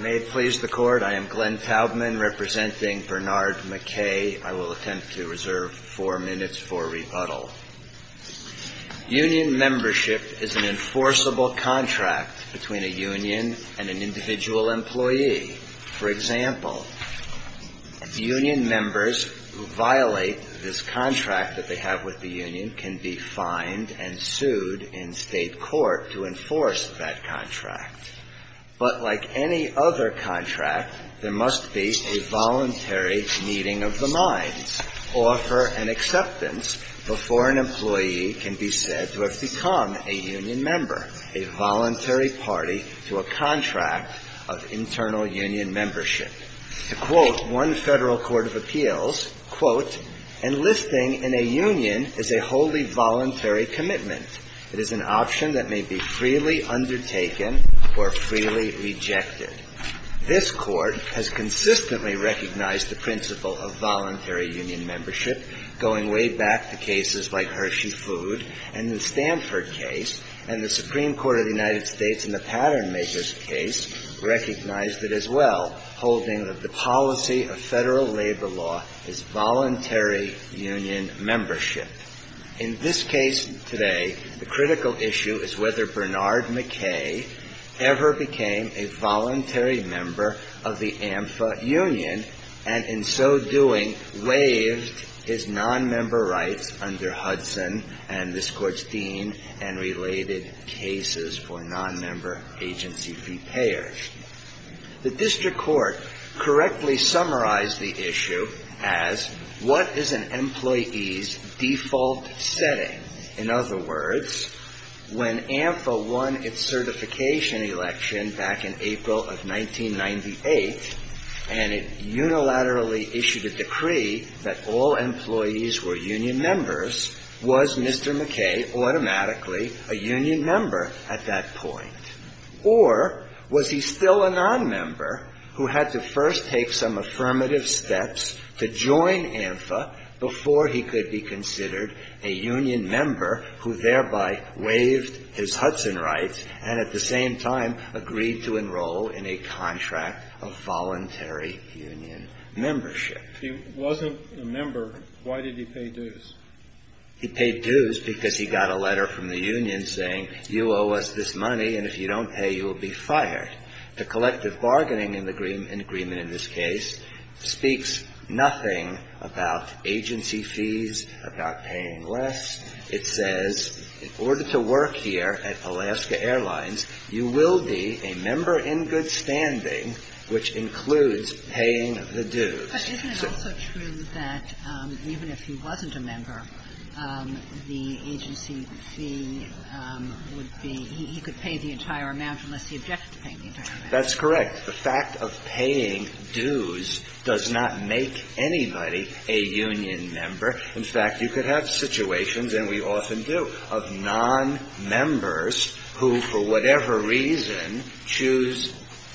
May it please the Court, I am Glenn Taubman representing Bernard McKay. I will attempt to reserve four minutes for rebuttal. Union membership is an enforceable contract between a union and an individual employee. For example, union members who violate this contract that they have with the union can be fined and sued in state court to enforce that contract. But like any other contract, there must be a voluntary meeting of the mind. Offer an acceptance before an employee can be said to have become a union member. A voluntary party to a contract of internal union membership. To quote one federal court of appeals, quote, Enlisting in a union is a wholly voluntary commitment. It is an option that may be freely undertaken or freely rejected. This court has consistently recognized the principle of voluntary union membership, going way back to cases like Hershey Foods and the Stanford case. And the Supreme Court of the United States in the Patternmakers case recognized it as well, holding that the policy of federal labor law is voluntary union membership. In this case today, the critical issue is whether Bernard McKay ever became a voluntary member of the AMFA union, and in so doing, waived his non-member right under Hudson, and this court's dean, and related cases for non-member agency fee payers. The district court correctly summarized the issue as, what is an employee's default setting? In other words, when AMFA won its certification election back in April of 1998, and it unilaterally issued a decree that all employees were union members, was Mr. McKay automatically a union member at that point? Or, was he still a non-member, who had to first take some affirmative steps to join AMFA, before he could be considered a union member, who thereby waived his Hudson rights, and at the same time, agreed to enroll in a contract of voluntary union membership? If he wasn't a member, why did he pay dues? He paid dues because he got a letter from the union saying, you owe us this money, and if you don't pay, you will be fired. The collective bargaining agreement, in this case, speaks nothing about agency fees, about paying less. It says, in order to work here at Alaska Airlines, you will be a member in good standing, which includes paying the dues. But isn't it also true that, even if he wasn't a member, the agency fee would be, he could pay the entire amount, unless he objected to paying the entire amount? That's correct. The fact of paying dues does not make anybody a union member. In fact, you could have situations, and we often do, of non-members who, for whatever reason, choose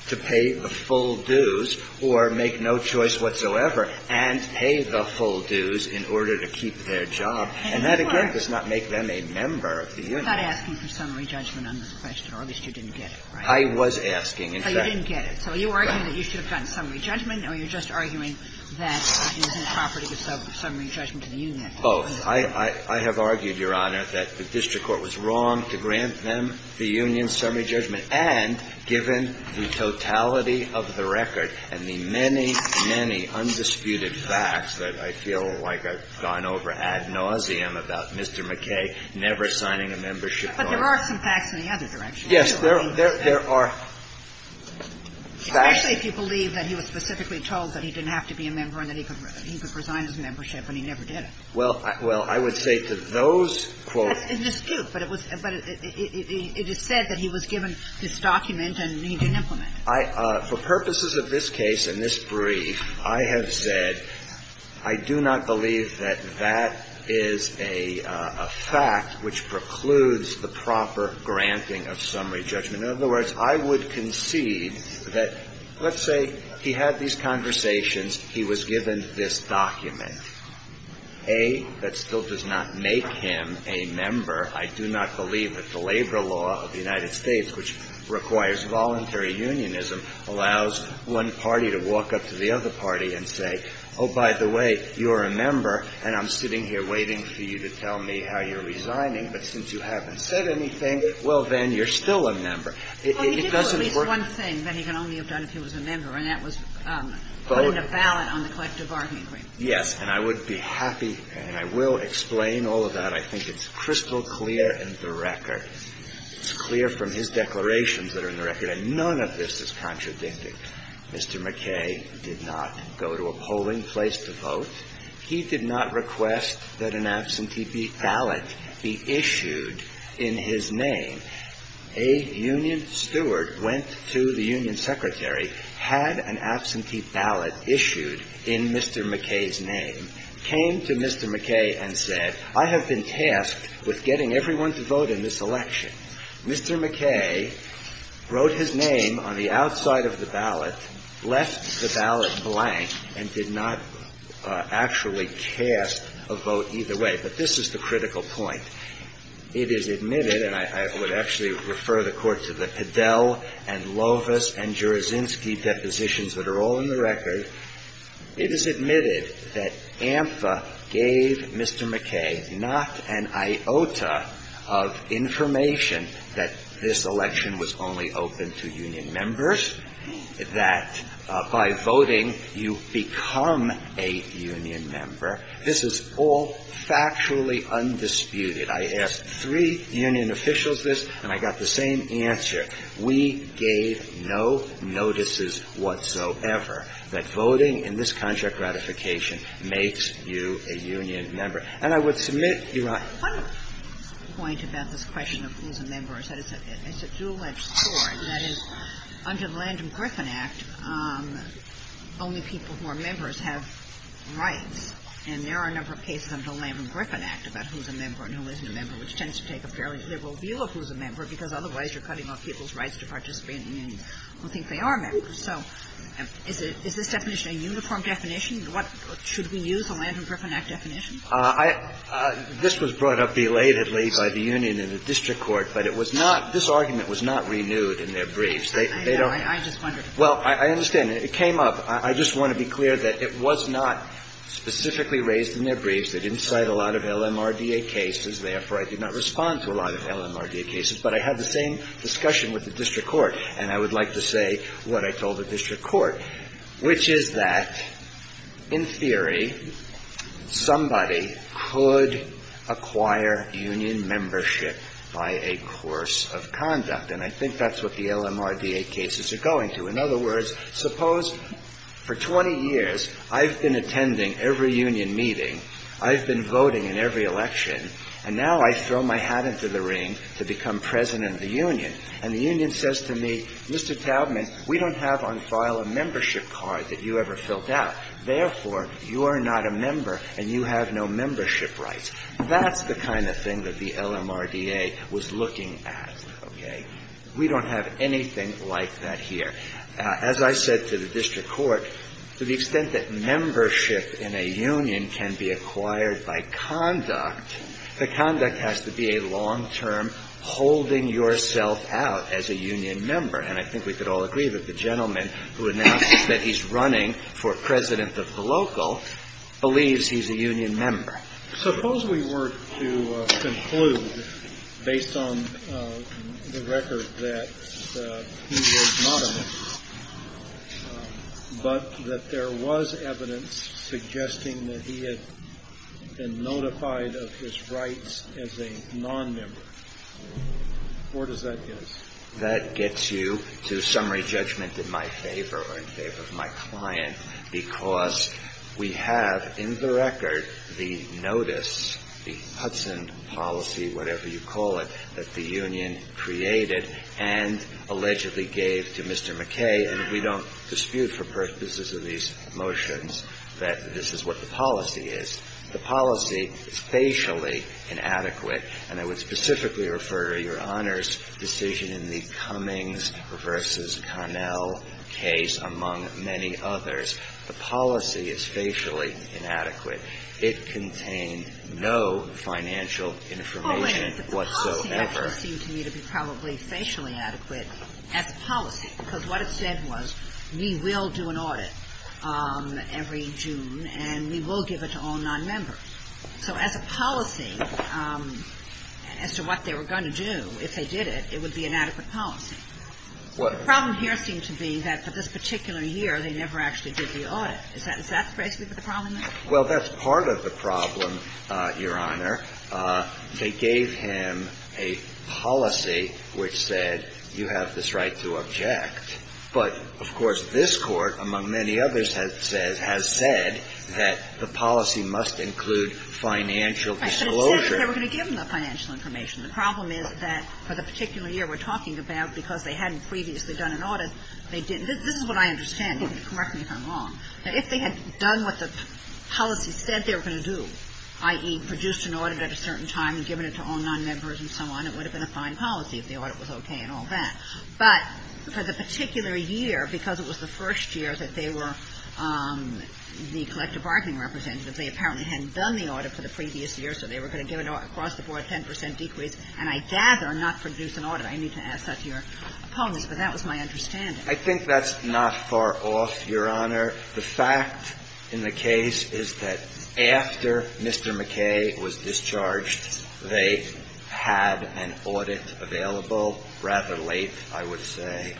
to pay the full dues, or make no choice whatsoever, and pay the full dues in order to keep their job. And that, again, does not make them a member of the union. You're not asking for summary judgment on this question, or at least you didn't get it, right? I was asking, in fact. So you didn't get it. So are you arguing that you should have gotten summary judgment, or you're just arguing that it isn't proper to give summary judgment to the union? Oh, I have argued, Your Honor, that the district court was wrong to grant them the union summary judgment, and given the totality of the record and the many, many undisputed facts that I feel like I've gone over ad nauseum about Mr. McKay never signing a membership form. But there are some facts in the other direction. Yes, there are facts. Especially if you believe that he was specifically told that he didn't have to be a member, and that he could resign his membership, and he never did. Well, I would say to those courts... It's a dispute, but it is said that he was given this document, and he didn't implement it. For purposes of this case and this brief, I have said I do not believe that that is a fact which precludes the proper granting of summary judgment. In other words, I would concede that, let's say he had these conversations. He was given this document, A, that still does not make him a member. I do not believe that the labor law of the United States, which requires voluntary unionism, allows one party to walk up to the other party and say, oh, by the way, you're a member, and I'm sitting here waiting for you to tell me how you're resigning. But since you haven't said anything, well, then, you're still a member. Oh, he did only say one thing, that he could only have done if he was a member, and that was putting a ballot on the collective bargaining agreement. Yes, and I would be happy, and I will explain all of that. I think it's crystal clear in the record. It's clear from his declarations that are in the record, and none of this is contradictory. Mr. McKay did not go to a polling place to vote. He did not request that an absentee ballot be issued in his name. A union steward went to the union secretary, had an absentee ballot issued in Mr. McKay's name, came to Mr. McKay and said, I have been tasked with getting everyone to vote in this election. Mr. McKay wrote his name on the outside of the ballot, left the ballot blank, and did not actually cast a vote either way. But this is the critical point. It is admitted, and I would actually refer the Court to the Fidel and Lovis and Juraczynski depositions that are all in the record. It is admitted that AMFA gave Mr. McKay not an iota of information that this election was only open to union members, that by voting, you become a union member. This is all factually undisputed. I asked three union officials this, and I got the same answer. We gave no notices whatsoever that voting in this contract ratification makes you a union member. And I would submit to you that- This was brought up belatedly by the union and the district court, but this argument was not renewed in their briefs. Well, I understand. It came up. I just want to be clear that it was not specifically raised in their briefs. They did not cite a lot of LMRDA cases. Therefore, I did not respond to a lot of LMRDA cases. But I had the same discussion with the district court, and I would like to say what I told the district court, which is that, in theory, somebody could acquire union membership by a course of conduct. And I think that is what the LMRDA cases are going to. In other words, suppose for 20 years, I have been attending every union meeting, I have been voting in every election, and now I throw my hat into the ring to become president of the union. And the union says to me, Mr. Taubman, we do not have on file a membership card that you ever filled out. Therefore, you are not a member, and you have no membership rights. That is the kind of thing that the LMRDA was looking at. We do not have anything like that here. As I said to the district court, to the extent that membership in a union can be acquired by conduct, the conduct has to be a long-term holding yourself out as a union member. And I think we could all agree that the gentleman who announced that he is running for president of the local believes he is a union member. Suppose we were to conclude, based on the record that he was not a member, but that there was evidence suggesting that he had been notified of his rights as a nonmember. Where does that get us? That gets you to summary judgment in my favor, or in favor of my client, because we have in the record the notice, the Hudson policy, whatever you call it, that the union created and allegedly gave to Mr. McKay. And we do not dispute for purposes of these motions that this is what the policy is. The policy is facially inadequate, and I would specifically refer to your Honor's decision in the Cummings v. Connell case, among many others. The policy is facially inadequate. It contained no financial information whatsoever. It seemed to me to be probably facially inadequate as a policy, because what it said was we will do an audit every June, and we will give it to all nonmembers. So as a policy, as to what they were going to do if they did it, it would be an adequate policy. The problem here seems to be that for this particular year, they never actually did the audit. Does that phrase you for the problem there? Well, that's part of the problem, Your Honor. They gave him a policy which said you have this right to object. But, of course, this Court, among many others, has said that the policy must include financial disclosure. I said that they were going to give him the financial information. The problem is that for the particular year we're talking about, because they hadn't previously done an audit, they didn't. This is what I understand, correct me if I'm wrong. If they had done what the policy said they were going to do, i.e., produced an audit at a certain time and given it to all nonmembers and so on, it would have been a fine policy if the audit was okay and all that. But for the particular year, because it was the first year that they were the collective bargaining representative, they apparently hadn't done the audit for the previous year, so they were going to give an audit across the board, 10 percent decrease. And I gather not to produce an audit. I need to ask that to your opponent, because that was my understanding. I think that's not far off, Your Honor. The fact in the case is that after Mr. McKay was discharged, they had an audit available rather late, I would say.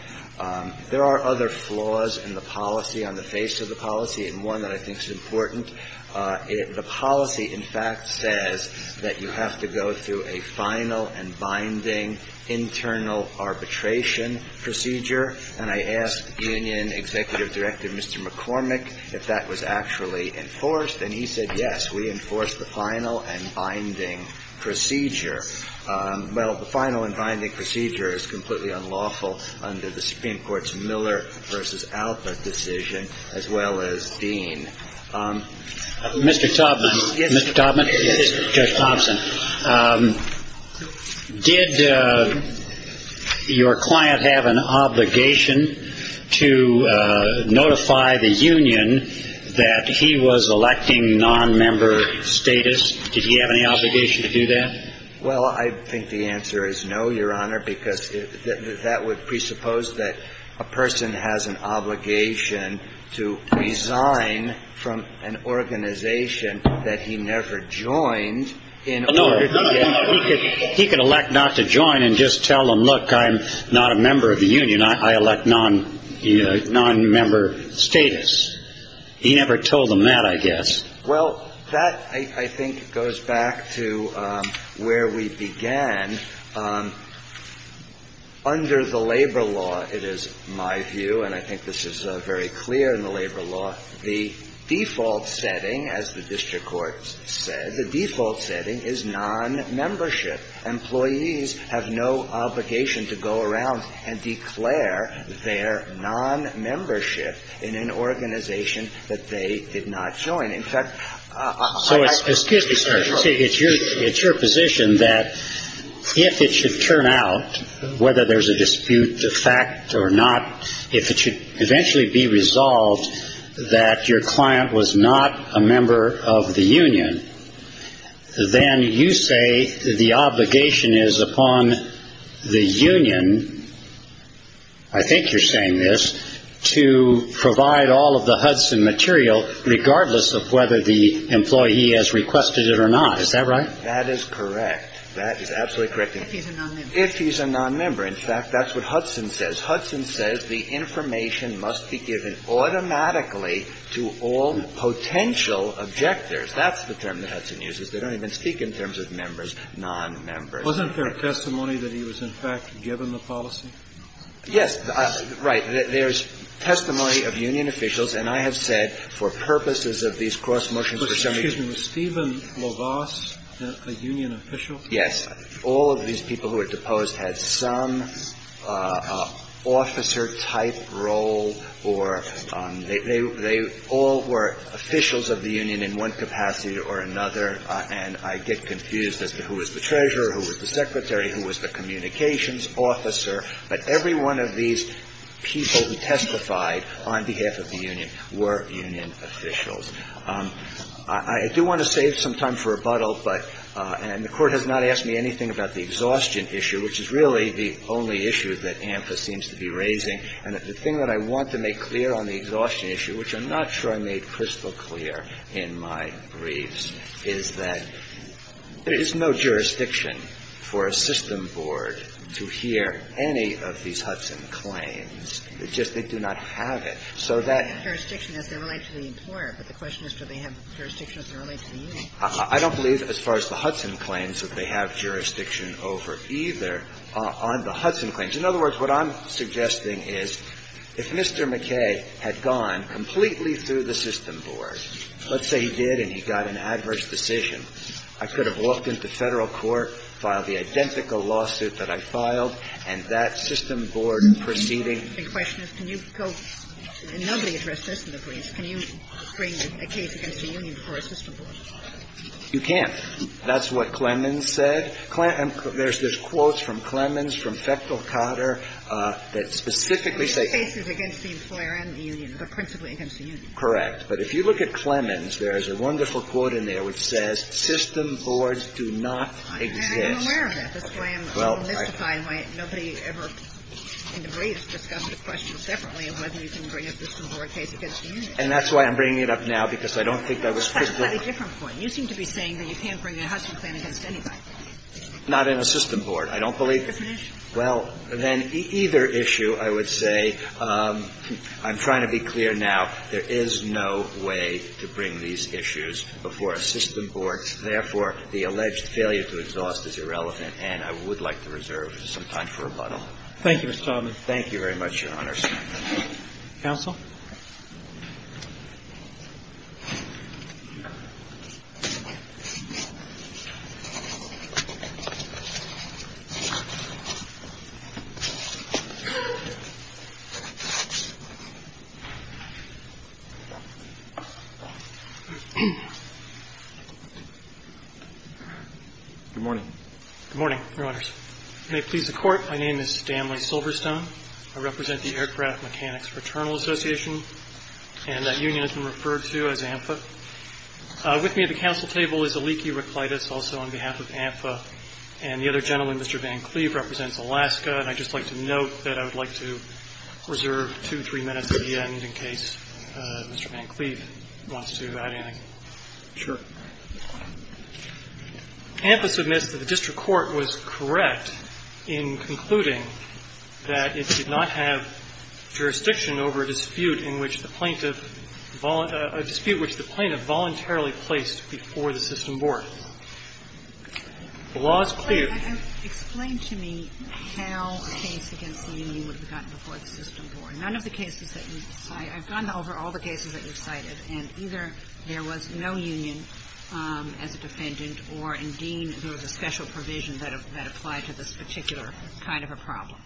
There are other flaws in the policy, on the face of the policy, and one that I think is important. The policy, in fact, says that you have to go through a final and binding internal arbitration procedure, and I asked the union executive director, Mr. McCormick, if that was actually enforced, and he said yes, we enforced the final and binding procedure. But the final and binding procedure is completely unlawful under the Supreme Court's Miller v. Alpha decision, as well as Dean. Mr. Taubman, did your client have an obligation to notify the union that he was electing nonmember status? Did he have any obligation to do that? Well, I think the answer is no, Your Honor, because that would presuppose that a person has an obligation to resign from an organization that he never joined. No, he could elect not to join and just tell them, look, I'm not a member of the union. I elect nonmember status. He never told them that, I guess. Well, that, I think, goes back to where we began. Under the labor law, it is my view, and I think this is very clear in the labor law, the default setting, as the district court said, the default setting is nonmembership. Employees have no obligation to go around and declare their nonmembership in an organization that they did not join. Excuse me, sir. It's your position that if it should turn out, whether there's a dispute effect or not, if it should eventually be resolved that your client was not a member of the union, then you say the obligation is upon the union, I think you're saying this, to provide all of the Hudson material regardless of whether the employee has requested it or not. Is that right? That is correct. That is absolutely correct. If he's a nonmember. If he's a nonmember. In fact, that's what Hudson says. The information must be given automatically to all potential objectors. That's the term that Hudson uses. They don't even speak in terms of members, nonmembers. Wasn't there testimony that he was, in fact, given the policy? Yes. Right. There's testimony of union officials, and I have said for purposes of these cross motions for some reason. Excuse me. Was Stephen LaVasse a union official? Yes. All of these people who were deposed had some officer-type role, or they all were officials of the union in one capacity or another, and I get confused as to who was the treasurer, who was the secretary, who was the communications officer, but every one of these people who testified on behalf of the union were union officials. I do want to save some time for rebuttal, and the court has not asked me anything about the exhaustion issue, which is really the only issue that AMCA seems to be raising, and the thing that I want to make clear on the exhaustion issue, which I'm not sure I made crystal clear in my briefs, is that there is no jurisdiction for a system board to hear any of these Hudson claims. It's just they do not have it. I don't believe as far as the Hudson claims that they have jurisdiction over either on the Hudson claims. In other words, what I'm suggesting is if Mr. McKay had gone completely through the system board, let's say he did and he got an adverse decision, I could have walked into federal court, filed the identical lawsuit that I filed, and that system board proceeding. The question is, can you go, and nobody addressed this in the briefs, can you bring a case against the union for a system board? You can't. That's what Clemens said. There's quotes from Clemens, from Fechtel-Cotter that specifically say... The case is against the employer and the union, but principally against the union. Correct. But if you look at Clemens, there is a wonderful quote in there which says, System boards do not exist. I'm aware of that. That's why I'm so mystified why nobody ever in the briefs discussed the question separately of whether you can bring a system board case against the union. And that's why I'm bringing it up now because I don't think I was supposed to. That's a slightly different point. You seem to be saying that you can't bring a Hudson claim against anybody. Not in a system board. I don't believe... That's an issue. Well, then either issue, I would say, I'm trying to be clear now, there is no way to bring these issues before a system board. Therefore, the alleged failure to exhaust is irrelevant. And I would like to reserve some time for rebuttal. Thank you, Mr. Chauvin. Thank you very much, Your Honors. Counsel? Good morning. Good morning, Your Honors. May it please the court. My name is Stanley Silverstone. I represent the Aircraft Mechanics Fraternal Association. And that union has been referred to as AMFA. With me at the council table is Aliki Ricklitus, also on behalf of AMFA. And the other gentleman, Mr. Van Cleave, represents Alaska. And I'd just like to note that I would like to reserve two, three minutes at the end Thank you. Thank you. Thank you. Thank you. Thank you. Thank you. Thank you. Thank you. Thank you. Thank you. Thank you. Thank you. Thank you. I will pass the ballot and I will remove Mr. Van Cleave Mr. Van Cleave wants to add anything. Sure. AMFA submits that the district court was correct in concluding that it should not have jurisdiction over a dispute which the plaintiff voluntarily placed before the System Board. The law is clear. Explain to me how a case against a union was gotten before the System Board. I have gone over all the cases that you cited and either there was no union as a defendant or indeed there was a special provision that applied to this particular kind of a problem.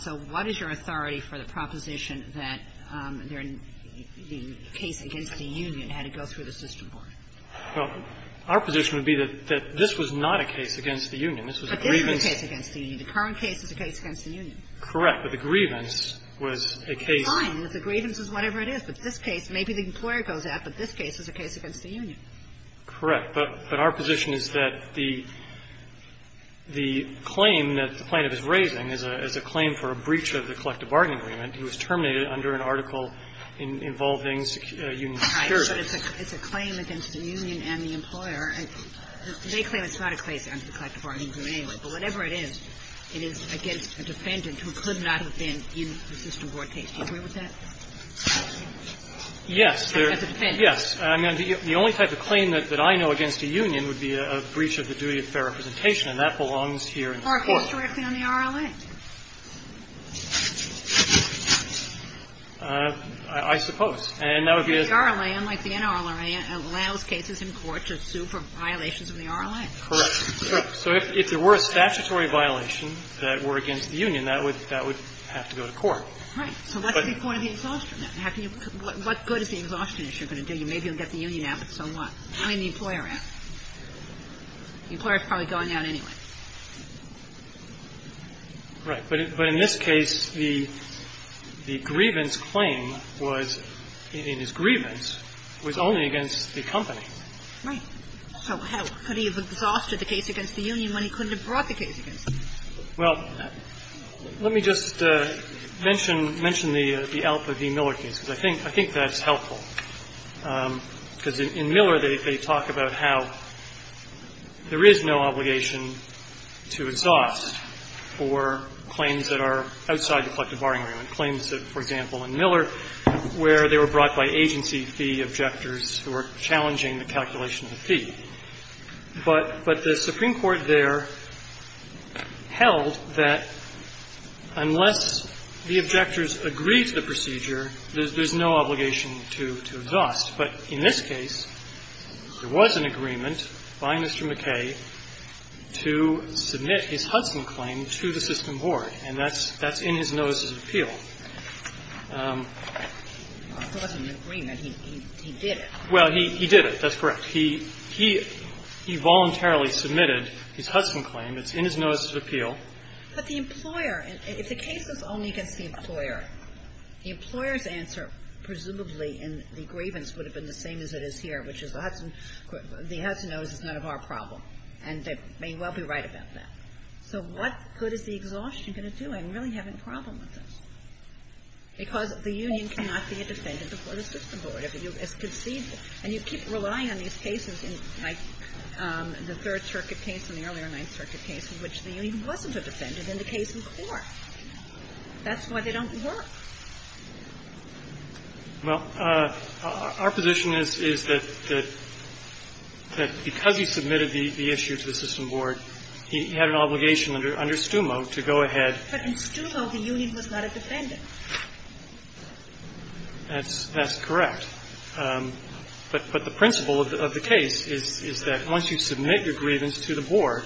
So what is your authority for the proposition that the case against the union had to go through the System Board? Our position would be that this was not a case against the union. This was a grievance. But this is a case against the union. The current case is a case against the union. Correct. But our position is that the claim that the plaintiff is raising is a claim for a breach of the collective bargaining agreement. It was terminated under an article involving union security. It's a claim against the union and the employer. They claim it's not a case against the collective bargaining agreement. But whatever it is, it is against a defendant who could not have done it. Yes. I mean, the only type of claim that I know against a union would be a breach of the duty of fair representation. And that belongs here in court. Are you working on the RLA? I suppose. The RLA might be an RLA and allow cases in court to sue for violations of the RLA. Correct. So, if there were a statutory violation that were against the union, that would have to go to court. Right. So, what's the point of the exhaustion? What good is the exhaustion issue going to do? You may be able to get the union out, but so what? And the employer. The employer has probably gone out anyway. Right. But in this case, the grievance claim was, in his grievance, was only against the company. Right. So, how could he have exhausted the case against the union when he couldn't have brought the case against the union? Well, let me just mention the Alpha v. Miller case, because I think that's helpful. Because in Miller, they talk about how there is no obligation to exhaust for claims that are outside the collective bargaining agreement. Claims that, for example, in Miller, where they were brought by agency fee objectors who were challenging the calculation of the fee. But the Supreme Court there held that unless the objectors agreed to the procedure, there's no obligation to exhaust. But in this case, there was an agreement by Mr. McKay to submit his Hudson claim to the system board. And that's in his notice of appeal. Well, he did it. That's correct. He voluntarily submitted his Hudson claim. It's in his notice of appeal. But the employer, if the case was only against the employer, the employer's answer, presumably, in the grievance, would have been the same as it is here, which is the Hudson notice is not a hard problem. And they may well be right about that. So, what good is the exhaustion going to do? I don't really have any problem with this. Right. Well, our position is that because he submitted the issue to the system board, he had an obligation under STUMA to go ahead. But in STUMA, the union does not have to pay him. That's correct. But the principle of the case is that once you submit your grievance to the board,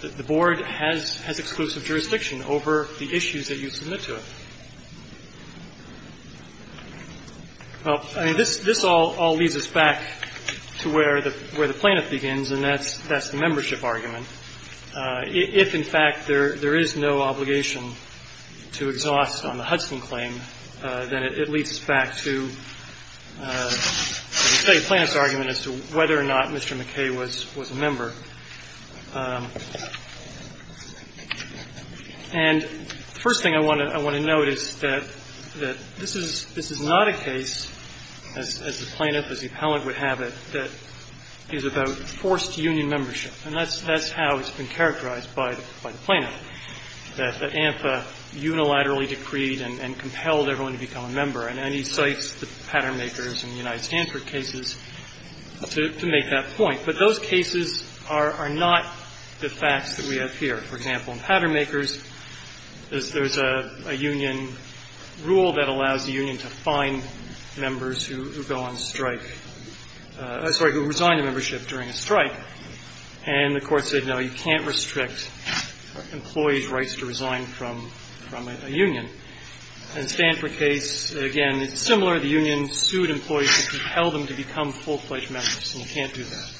the board has exclusive jurisdiction over the issues that you submit to it. Well, I mean, this all leads us back to where the plaintiff begins, and that's the membership argument. If, in fact, there is no obligation to exhaust on the Hudson claim, then it leads back to the plaintiff's argument as to whether or not Mr. McKay was a member. And the first thing I want to note is that this is not a case, as the plaintiff, as the plaintiff has been characterized by the plaintiff, that ANSA unilaterally decreed and compelled everyone to become a member. And I need to cite the Pattermakers and the United Hanford cases to make that point. But those cases are not the facts that we have here. For example, in Pattermakers, there's a union rule that allows the union to find members who go on strike, sorry, who resign membership during a strike. And the court says, no, you can't restrict employee's rights to resign from a union. And Stanford case, again, it's similar. The union sued employees to compel them to become full-fledged members, and you can't do that.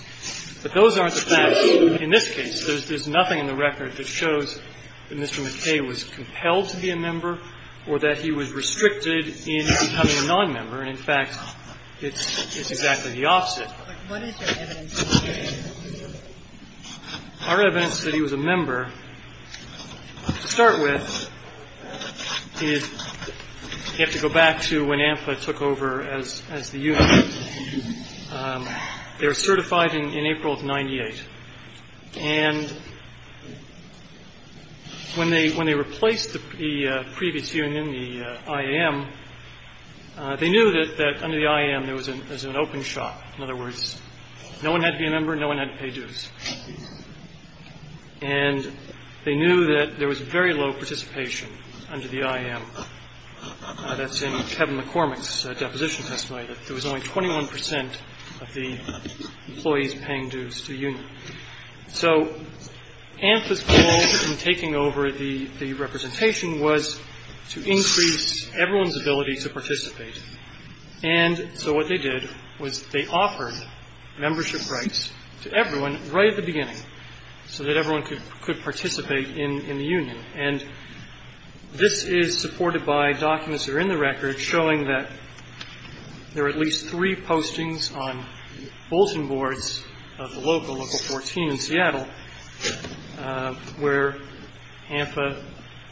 But those aren't the facts. In this case, there's nothing in the record that shows that Mr. McKay was compelled to be a member or that he was restricted in becoming a nonmember. In fact, it's exactly the opposite. Our evidence that he was a member, to start with, is you have to go back to when ANSA took over as the union. They were certified in April of 98. And when they replaced the previous union, the IM, they knew that under the IM, there No one had to be a member. No one had to pay dues. And they knew that there was very low participation under the IM. That's in Kevin McCormick's deposition testimony. There was only 21% of the employees paying dues to the union. So ANSA's goal in taking over the representation was to increase everyone's ability to participate. And so what they did was they offered membership rights to everyone right at the beginning so that everyone could participate in the union. And this is supported by documents that are in the record showing that there were at least three postings on bulletin boards of the local 14 in Seattle where ANSA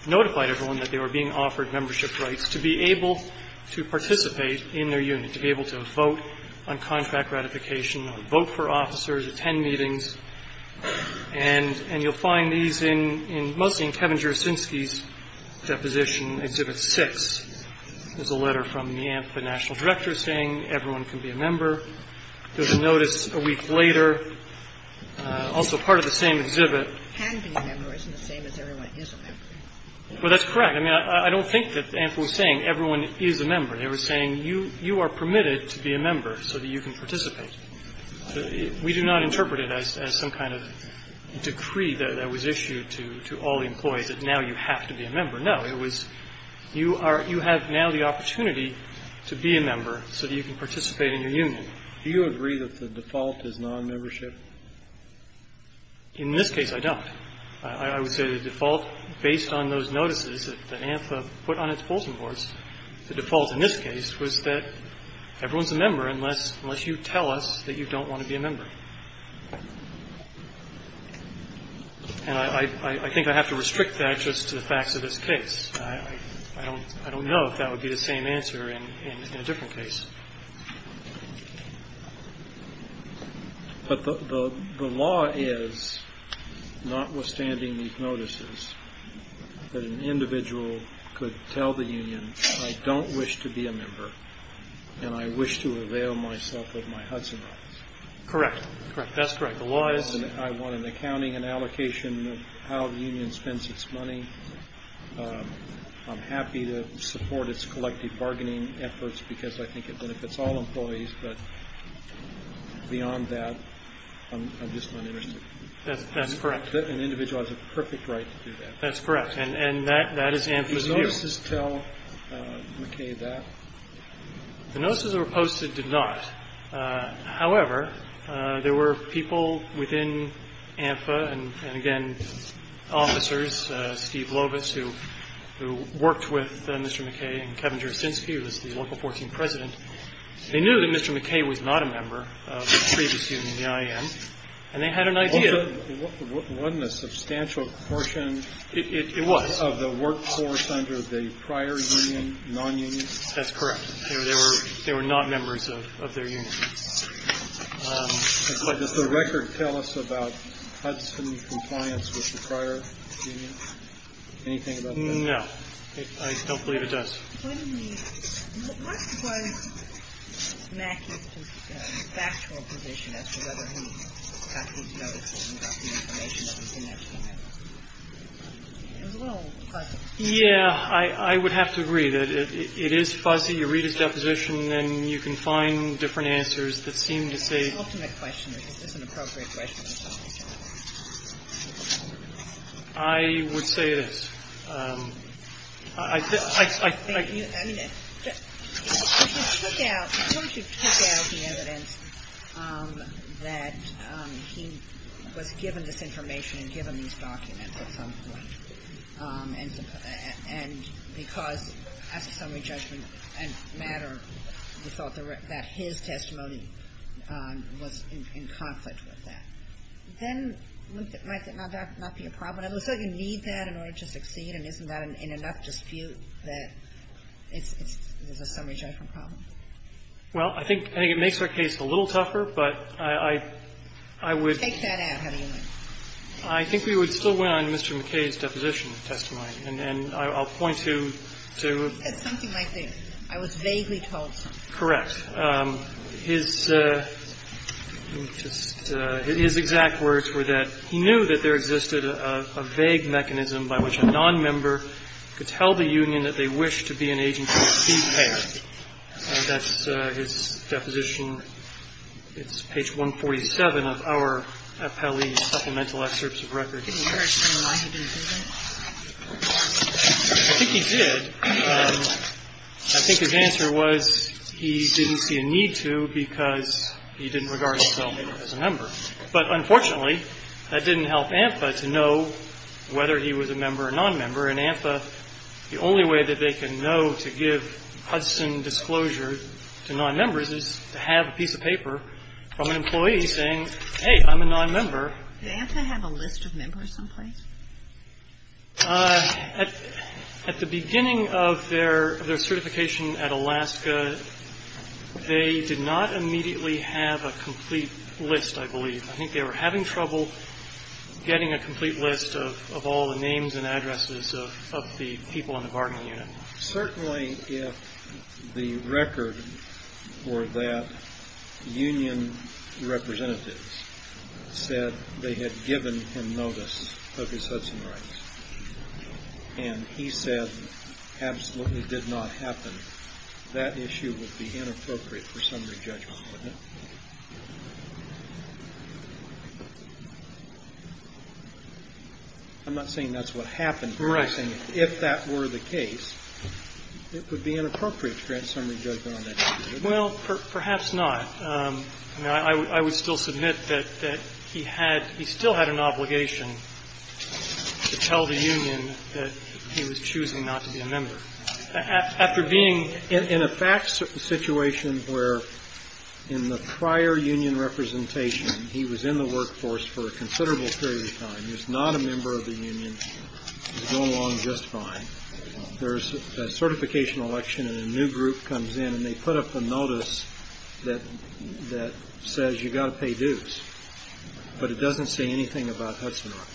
notified everyone that they were being offered membership rights to be able to participate in their union, to be able to vote on contract ratification, vote for officers, attend meetings. And you'll find these in mostly in Kevin Jurczynski's deposition, Exhibit 6. There's a letter from the ANSA national director saying everyone can be a member. There's a notice a week later, also part of the same exhibit. Well, that's correct. I mean, I don't think that ANSA was saying everyone is a member. They were saying you are permitted to be a member so that you can participate. We do not interpret it as some kind of decree that was issued to all employees that now you have to be a member. No, it was you have now the opportunity to be a member so that you can participate in your union. Do you agree that the default is non-membership? In this case, I don't. I would say the default based on those notices that the ANSA put on its Folsom horse, the default in this case was that everyone is a member unless you tell us that you don't want to be a member. And I think I have to restrict that just to the facts of this case. I don't know if that would be the same answer in a different case. But the law is, notwithstanding these notices, that an individual could tell the union I don't wish to be a member and I wish to avail myself of my Hudson rights. Correct. That's correct. The law is I want an accounting and allocation of how the union spends its money. I'm happy to support its collective bargaining efforts because I think it benefits all employees, but beyond that, I'm just not interested. That's correct. An individual has a perfect right to do that. That's correct. And that is ANSA's view. Did the notices tell McKay that? The notices that were posted did not. However, there were people within ANSA and, again, officers, Steve Lovitz, who worked with Mr. McKay and Kevin Dristinsky, who was the local force and president. They knew that Mr. McKay was not a member of the previous union, the NIN, and they had an idea. Wasn't a substantial portion of the workforce under the prior union, non-union? That's correct. They were not members of their union. Does the record tell us about Hudson compliance with the prior union? Anything about that? No. I don't believe it does. Yeah. I would have to read it. It is fuzzy. You read a deposition and you can find different answers. It seems that they- It's an alternate question. It's an appropriate question. I would say this. I think- I mean, it's- He took out the evidence that he was given this information and given these documents at some point. And because after summary judgment and matter, we thought that his testimony was in conflict with that. Then, like, that might be a problem. It looks like you need that in order to succeed, and isn't that in enough dispute that it's a summary judgment problem? Well, I think it makes our case a little tougher, but I would- Take that out, honey. I think we would still win on Mr. McKay's deposition of testimony. And I'll point to- Something like this. I was vaguely told. Correct. His exact words were that he knew that there existed a vague mechanism by which a nonmember could tell the union that they wished to be an agency of state care. And that's his deposition. It's page 147 of our appellee's supplemental excerpts of record. Did he ever say why he did it? I think he did. I think his answer was he didn't see a need to because he didn't regard himself as a member. But, unfortunately, that didn't help ANFA to know whether he was a member or nonmember. And ANFA, the only way that they can know to give Hudson disclosures to nonmembers is to have a piece of paper from an employee saying, hey, I'm a nonmember. Did ANFA have a list of members, I'm afraid? At the beginning of their certification at Alaska, they did not immediately have a complete list, I believe. I think they were having trouble getting a complete list of all the names and addresses of the people on the bargaining unit. Certainly, if the record for that union representative said that they had given him notice of his Hudson rights, and he said absolutely did not happen, that issue would be inappropriate for summary judgment. I'm not saying that's what happened. I'm saying if that were the case, it would be inappropriate to grant summary judgment on that issue. Well, perhaps not. I would still submit that he still had an obligation to tell the union that he was choosing not to be a member. In a fact situation where in the prior union representation, he was in the workforce for a considerable period of time, he was not a member of the union, he was going along just fine. There's a certification election and a new group comes in and they put up a notice that says you've got to pay dues, but it doesn't say anything about Hudson rights.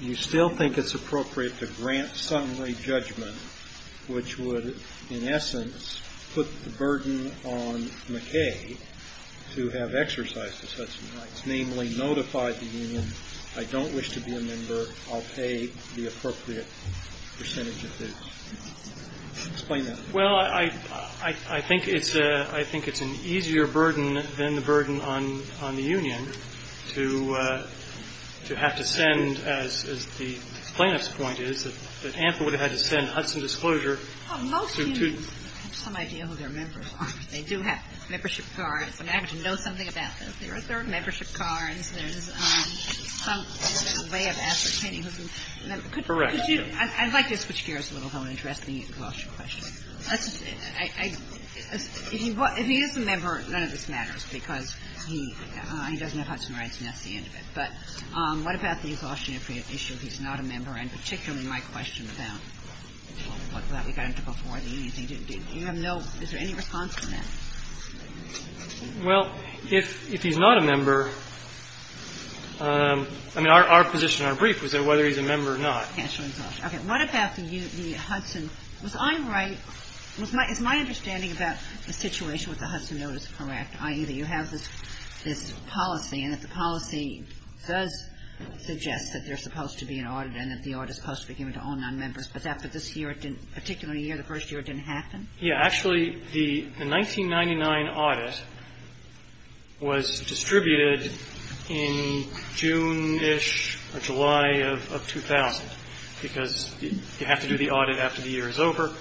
You still think it's appropriate to grant summary judgment, which would, in essence, put the burden on McKay to have exercises Hudson rights, namely notify the union, I don't wish to be a member, I'll pay the appropriate percentage of dues. Explain that. Well, I think it's an easier burden than the burden on the union to have to send, as the plaintiff's point is, that ANSA would have had to send Hudson disclosure to... Well, most unions have some idea who their members are. They do have a membership card. They have to know something about this. There is their membership card. There is some way of ascertaining who... Correct. I'd like to switch gears a little, though, and address the disclosure question. If he is a member, none of this matters, because he doesn't have Hudson rights and that's the end of it. But what about the disclosure issue if he's not a member, and particularly my question about what we got into before the union, is there any response to that? Well, if he's not a member, I mean, our position in our brief was that whether he's a member or not. Okay. What about the Hudson... If I'm right, is my understanding about the situation with the Hudson notice correct, i.e., that you have this policy, and if the policy does suggest that there's supposed to be an audit and that the audit is supposed to be given to all non-members, but after this year, particularly the first year, it didn't happen? Yeah. Actually, the 1999 audit was distributed in June-ish or July of 2000, because you have to do the audit after the year is over.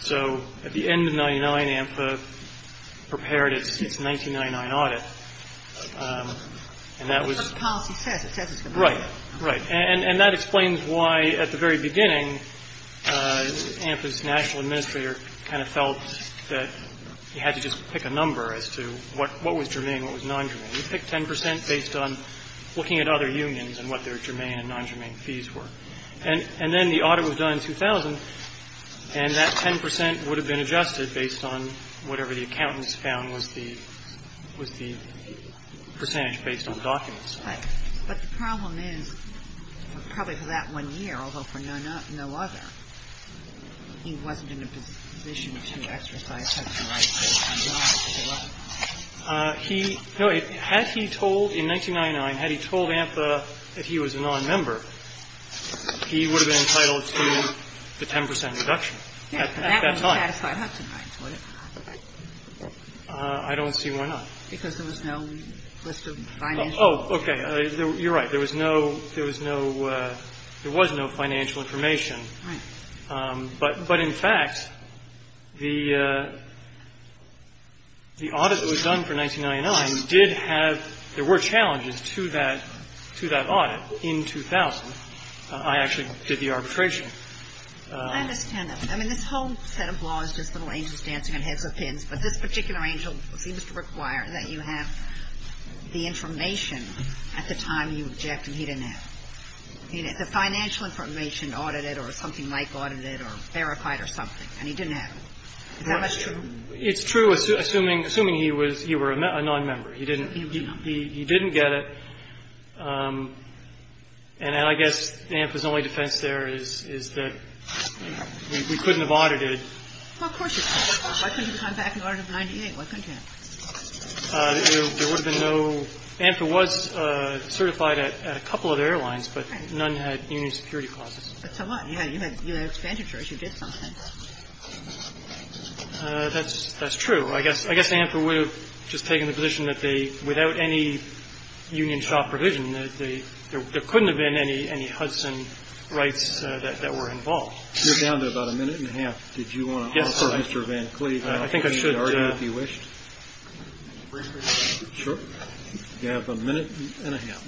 So at the end of 1999, AMFA prepared its 1999 audit, and that was... The policy says it's a... Right, right. And that explains why, at the very beginning, AMFA's national administrator kind of felt that you had to just pick a number as to what was germane and what was non-germane. We picked 10 percent based on looking at other unions and what their germane and non-germane fees were. And then the audit was done in 2000, and that 10 percent would have been adjusted based on whatever the accountants found was the percentage based on the documents. But the problem is, probably for that one year, although for no other, he wasn't in a position to exercise such a right. No, had he told, in 1999, had he told AMFA that he was a non-member, he would have been entitled to the 10 percent reduction at that time. Yeah, that would have been satisfying, actually. I don't see why not. Because there was no list of financial... Oh, okay, you're right. There was no... There was no financial information. Right. But, in fact, the audit that was done for 1999 did have... There were challenges to that audit in 2000. I actually did the arbitration. I understand that. I mean, this whole set of laws is just little angels dancing in heads with pins, but this particular angel seems to require that you have the information at the time you object, and he didn't have it. The financial information audited or something like audited or verified or something, and he didn't have it. Is that true? It's true, assuming he was a non-member. He didn't get it, and I guess AMFA's only defense there is that we couldn't have audited. Well, of course you couldn't. Why couldn't you come back in 1998? Why couldn't you? There would have been no... AMFA was certified at a couple of airlines, but none had union security clauses. So what? You had an expenditure issue. You did something. That's true. I guess AMFA would have just taken the position that they, without any union shop provision, that there couldn't have been any Hudson rights that were involved. You're down to about a minute and a half. Did you want to offer Mr. Van Cleave an argument, if you wished? Sure. You have a minute and a half.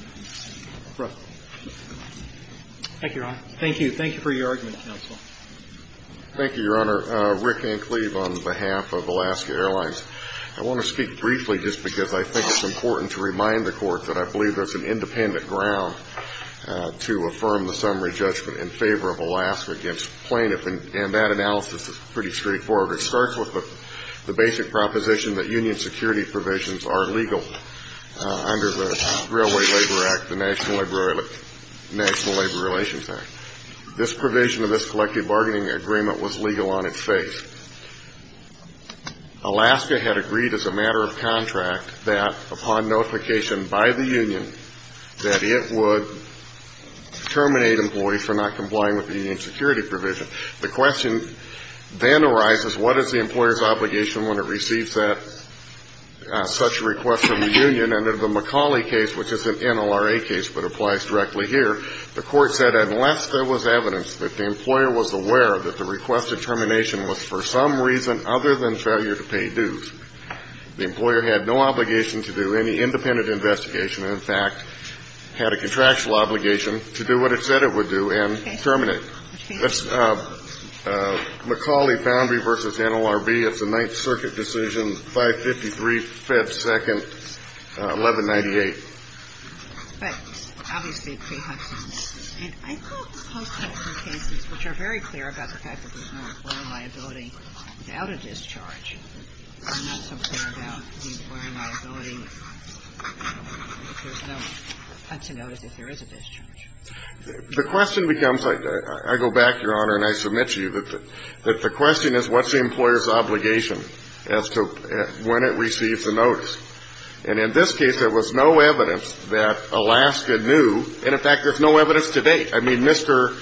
Thank you, Your Honor. Thank you. Thank you for your argument, counsel. Thank you, Your Honor. Rick Van Cleave on behalf of Alaska Airlines. I want to speak briefly just because I think it's important to remind the court that I believe there's an independent ground to affirm the summary judgment in favor of Alaska against plaintiff, and that analysis is pretty straightforward. It starts with the basic proposition that union security provisions are legal under the Railway Labor Act, the National Labor Relations Act. This provision of this collective bargaining agreement was legal on its face. Alaska had agreed as a matter of contract that upon notification by the union that it would terminate employees for not complying with the union security provision. The question then arises, what is the employer's obligation when it receives such a request from the union? And in the McCauley case, which is an NORA case but applies directly here, the court said unless there was evidence that the employer was aware that the requested termination was for some reason other than failure to pay dues, the employer had no obligation to do any independent investigation and, in fact, had a contractual obligation to do what it said it would do and terminate. Which case? McCauley-Foundry v. NLRB. It's a Ninth Circuit decision, 553, Fed 2nd, 1198. But, obviously, it could have been. I know some cases which are very clear about the fact that there's no employer liability out of discharge are not so clear about the employer liability to notice that there is a discharge. The question becomes, I go back, Your Honor, and I submit to you that the question is, what's the employer's obligation as to when it receives a notice? And in this case, there was no evidence that Alaska knew. And, in fact, there's no evidence to date. I mean, Mr.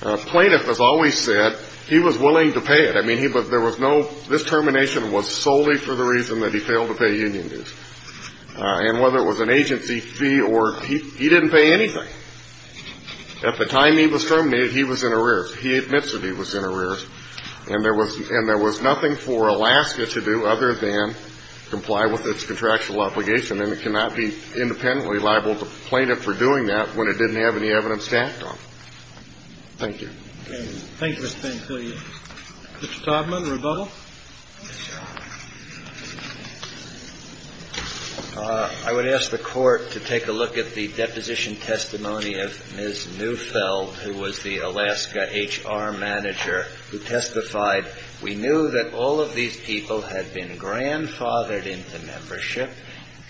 Plaintiff has always said he was willing to pay it. I mean, there was no, this termination was solely for the reason that he failed to pay union dues. And whether it was an agency fee or, he didn't pay anything. At the time he was terminated, he was in arrears. He admits that he was in arrears. And there was nothing for Alaska to do other than comply with its contractual obligation. And it cannot be independently liable to the plaintiff for doing that when it didn't have any evidence stacked on it. Thank you. Thank you, Mr. Pantelius. Mr. Todman, the rebuttal. I would ask the Court to take a look at the deposition testimony of Ms. Neufeld, who was the Alaska HR manager, who testified, we knew that all of these people had been grandfathered into membership.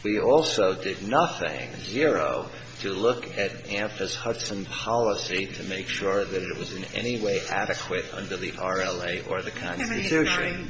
We also did nothing, zero, to look at AMFA's Hudson policy to make sure that it was in any way adequate under the RLA or the Constitution.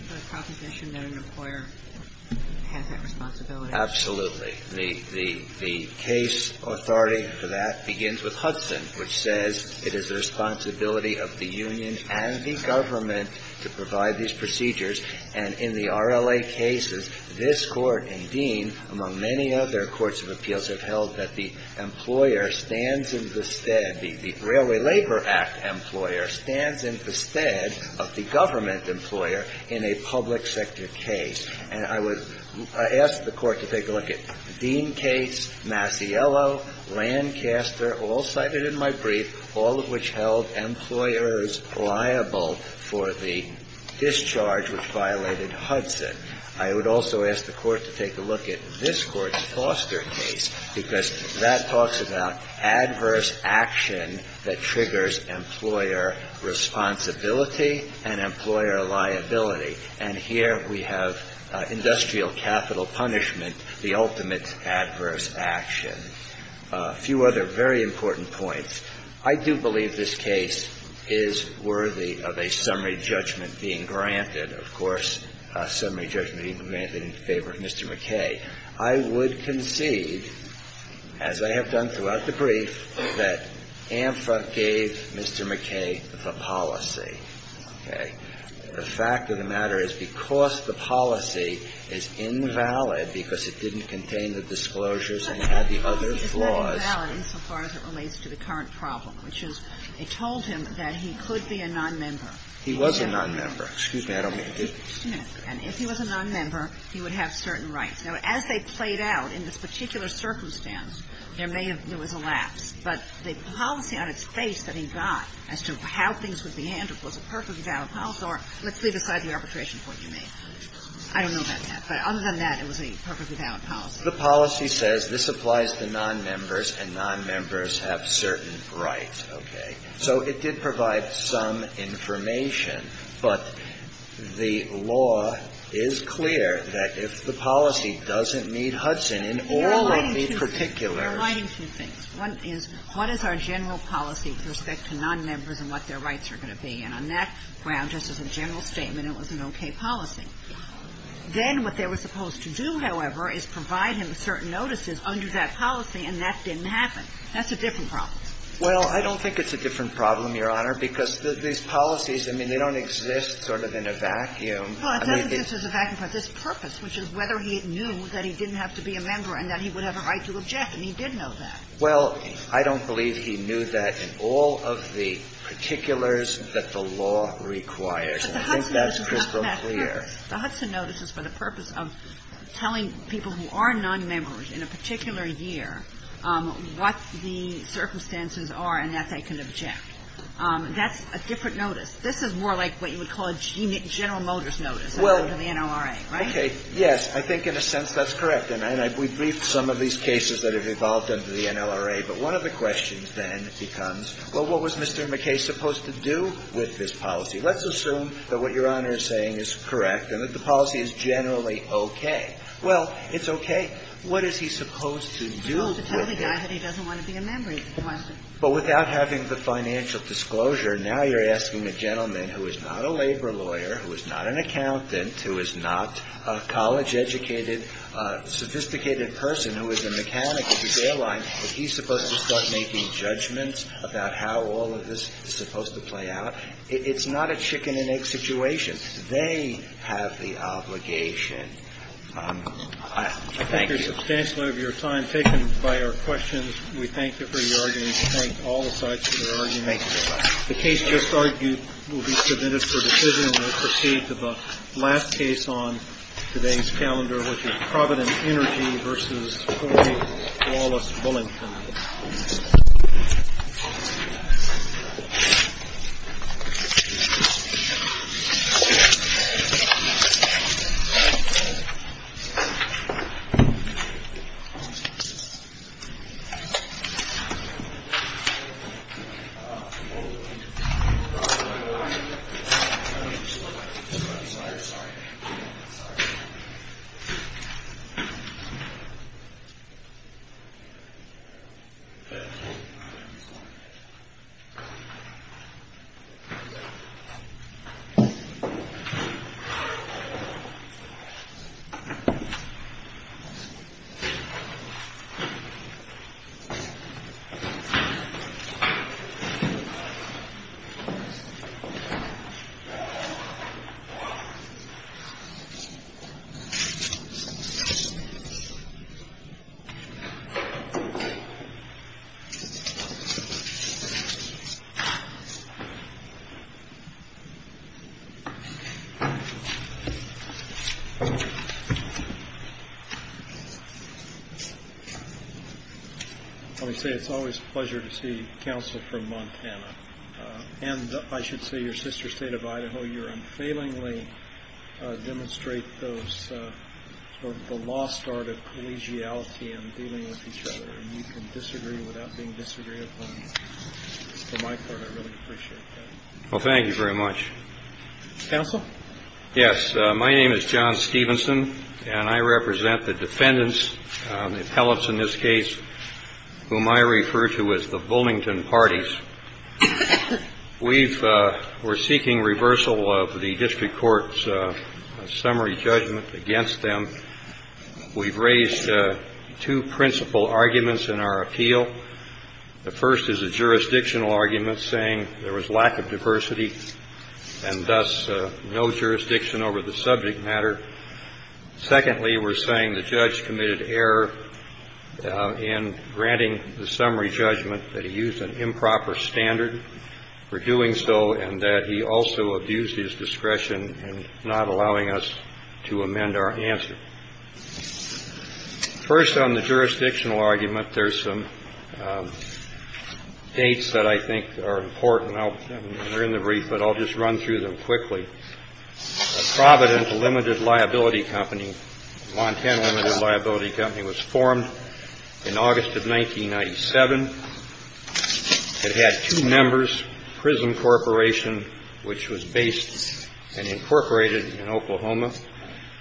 Absolutely. The case authority for that begins with Hudson, which says it is the responsibility of the unions and the government to provide these procedures. And in the RLA cases, this Court and Dean, among many other courts of appeals, have held that the employer stands in bested, the Railway Labor Act employer, stands in bested of the government employer in a public sector case. I ask the Court to take a look at the Dean case, Masiello, Lancaster, all cited in my brief, all of which held employers liable for the discharge which violated Hudson. I would also ask the Court to take a look at this Court's Foster case because that talks about adverse action that triggers employer responsibility and employer liability. And here we have industrial capital punishment, the ultimate adverse action. A few other very important points. I do believe this case is worthy of a summary judgment being granted. Of course, a summary judgment being granted in favor of Mr. McKay. I would concede, as I have done throughout the brief, that AMFA gave Mr. McKay the policy. Okay. The fact of the matter is because the policy is invalid because it didn't contain the disclosures and had the other flaws. It's not invalid as far as it relates to the current problem, which is it told him that he could be a nonmember. He was a nonmember. Excuse me. I don't mean to be dismissive. And if he was a nonmember, he would have certain rights. Now, as they played out in this particular circumstance, there may have been a lapse. But the policy on its face that he got as to how things would be handled was a perfectly valid policy. Or let's leave aside the arbitration for today. I don't know about that. But other than that, it was a perfectly valid policy. The policy says this applies to nonmembers, and nonmembers have certain rights. Okay. So, it did provide some information. But the law is clear that if the policy doesn't need Hudson in all of the particulars. I'm writing two things. One is, what is our general policy with respect to nonmembers and what their rights are going to be? And on that ground, just as a general statement, it was an okay policy. Then what they were supposed to do, however, is provide him with certain notices under that policy, and that didn't happen. That's a different problem. Well, I don't think it's a different problem, Your Honor, because these policies, I mean, they don't exist sort of in a vacuum. Well, it doesn't exist as a vacuum. Well, I don't believe he knew that in all of the particulars that the law requires. I think that's crystal clear. The Hudson notice is for the purpose of telling people who are nonmembers in a particular year what the circumstances are and that they can object. That's a different notice. This is more like what you would call a General Motors notice. Yes, I think in a sense that's correct. And we briefed some of these cases that have evolved into the NLRA. But one of the questions then becomes, well, what was Mr. McKay supposed to do with this policy? Let's assume that what Your Honor is saying is correct and that the policy is generally okay. Well, it's okay. What is he supposed to do with it? He doesn't want to be a member. But without having the financial disclosure, now you're asking a gentleman who is not a labor lawyer, who is not an accountant, who is not a college-educated, sophisticated person, who is a mechanic at the airline, is he supposed to start making judgments about how all of this is supposed to play out? It's not a chicken and egg situation. They have the obligation. Thank you substantially for your time. Taken by our questions, we thank you for your arguments. We thank all the sides for their arguments. The case just argued will be submitted for decision and will proceed to the last case on today's calendar, which is Providence Energy v. Roy Wallace-Bullington. Thank you. Thank you. It's always a pleasure to see counsel from Montana. And I should say your sister state of Idaho. You unfailingly demonstrate the lost art of collegiality and dealing with each other. You can disagree without being disagreed upon. From my part, I really appreciate it. Well, thank you very much. Counsel? Yes. My name is John Stevenson, and I represent the defendants, the appellants in this case, whom I refer to as the Bullington parties. We're seeking reversal of the district court's summary judgment against them. We've raised two principal arguments in our appeal. The first is a jurisdictional argument saying there was lack of diversity and thus no jurisdiction over the subject matter. Secondly, we're saying the judge committed error in granting the summary judgment that he used an improper standard for doing so and that he also abused his discretion in not allowing us to amend our answer. First on the jurisdictional argument, there's some dates that I think are important. They're in the brief, but I'll just run through them quickly. Providence Limited Liability Company, Montana Limited Liability Company, was formed in August of 1997. It had two members, Prism Corporation, which was based and incorporated in Oklahoma.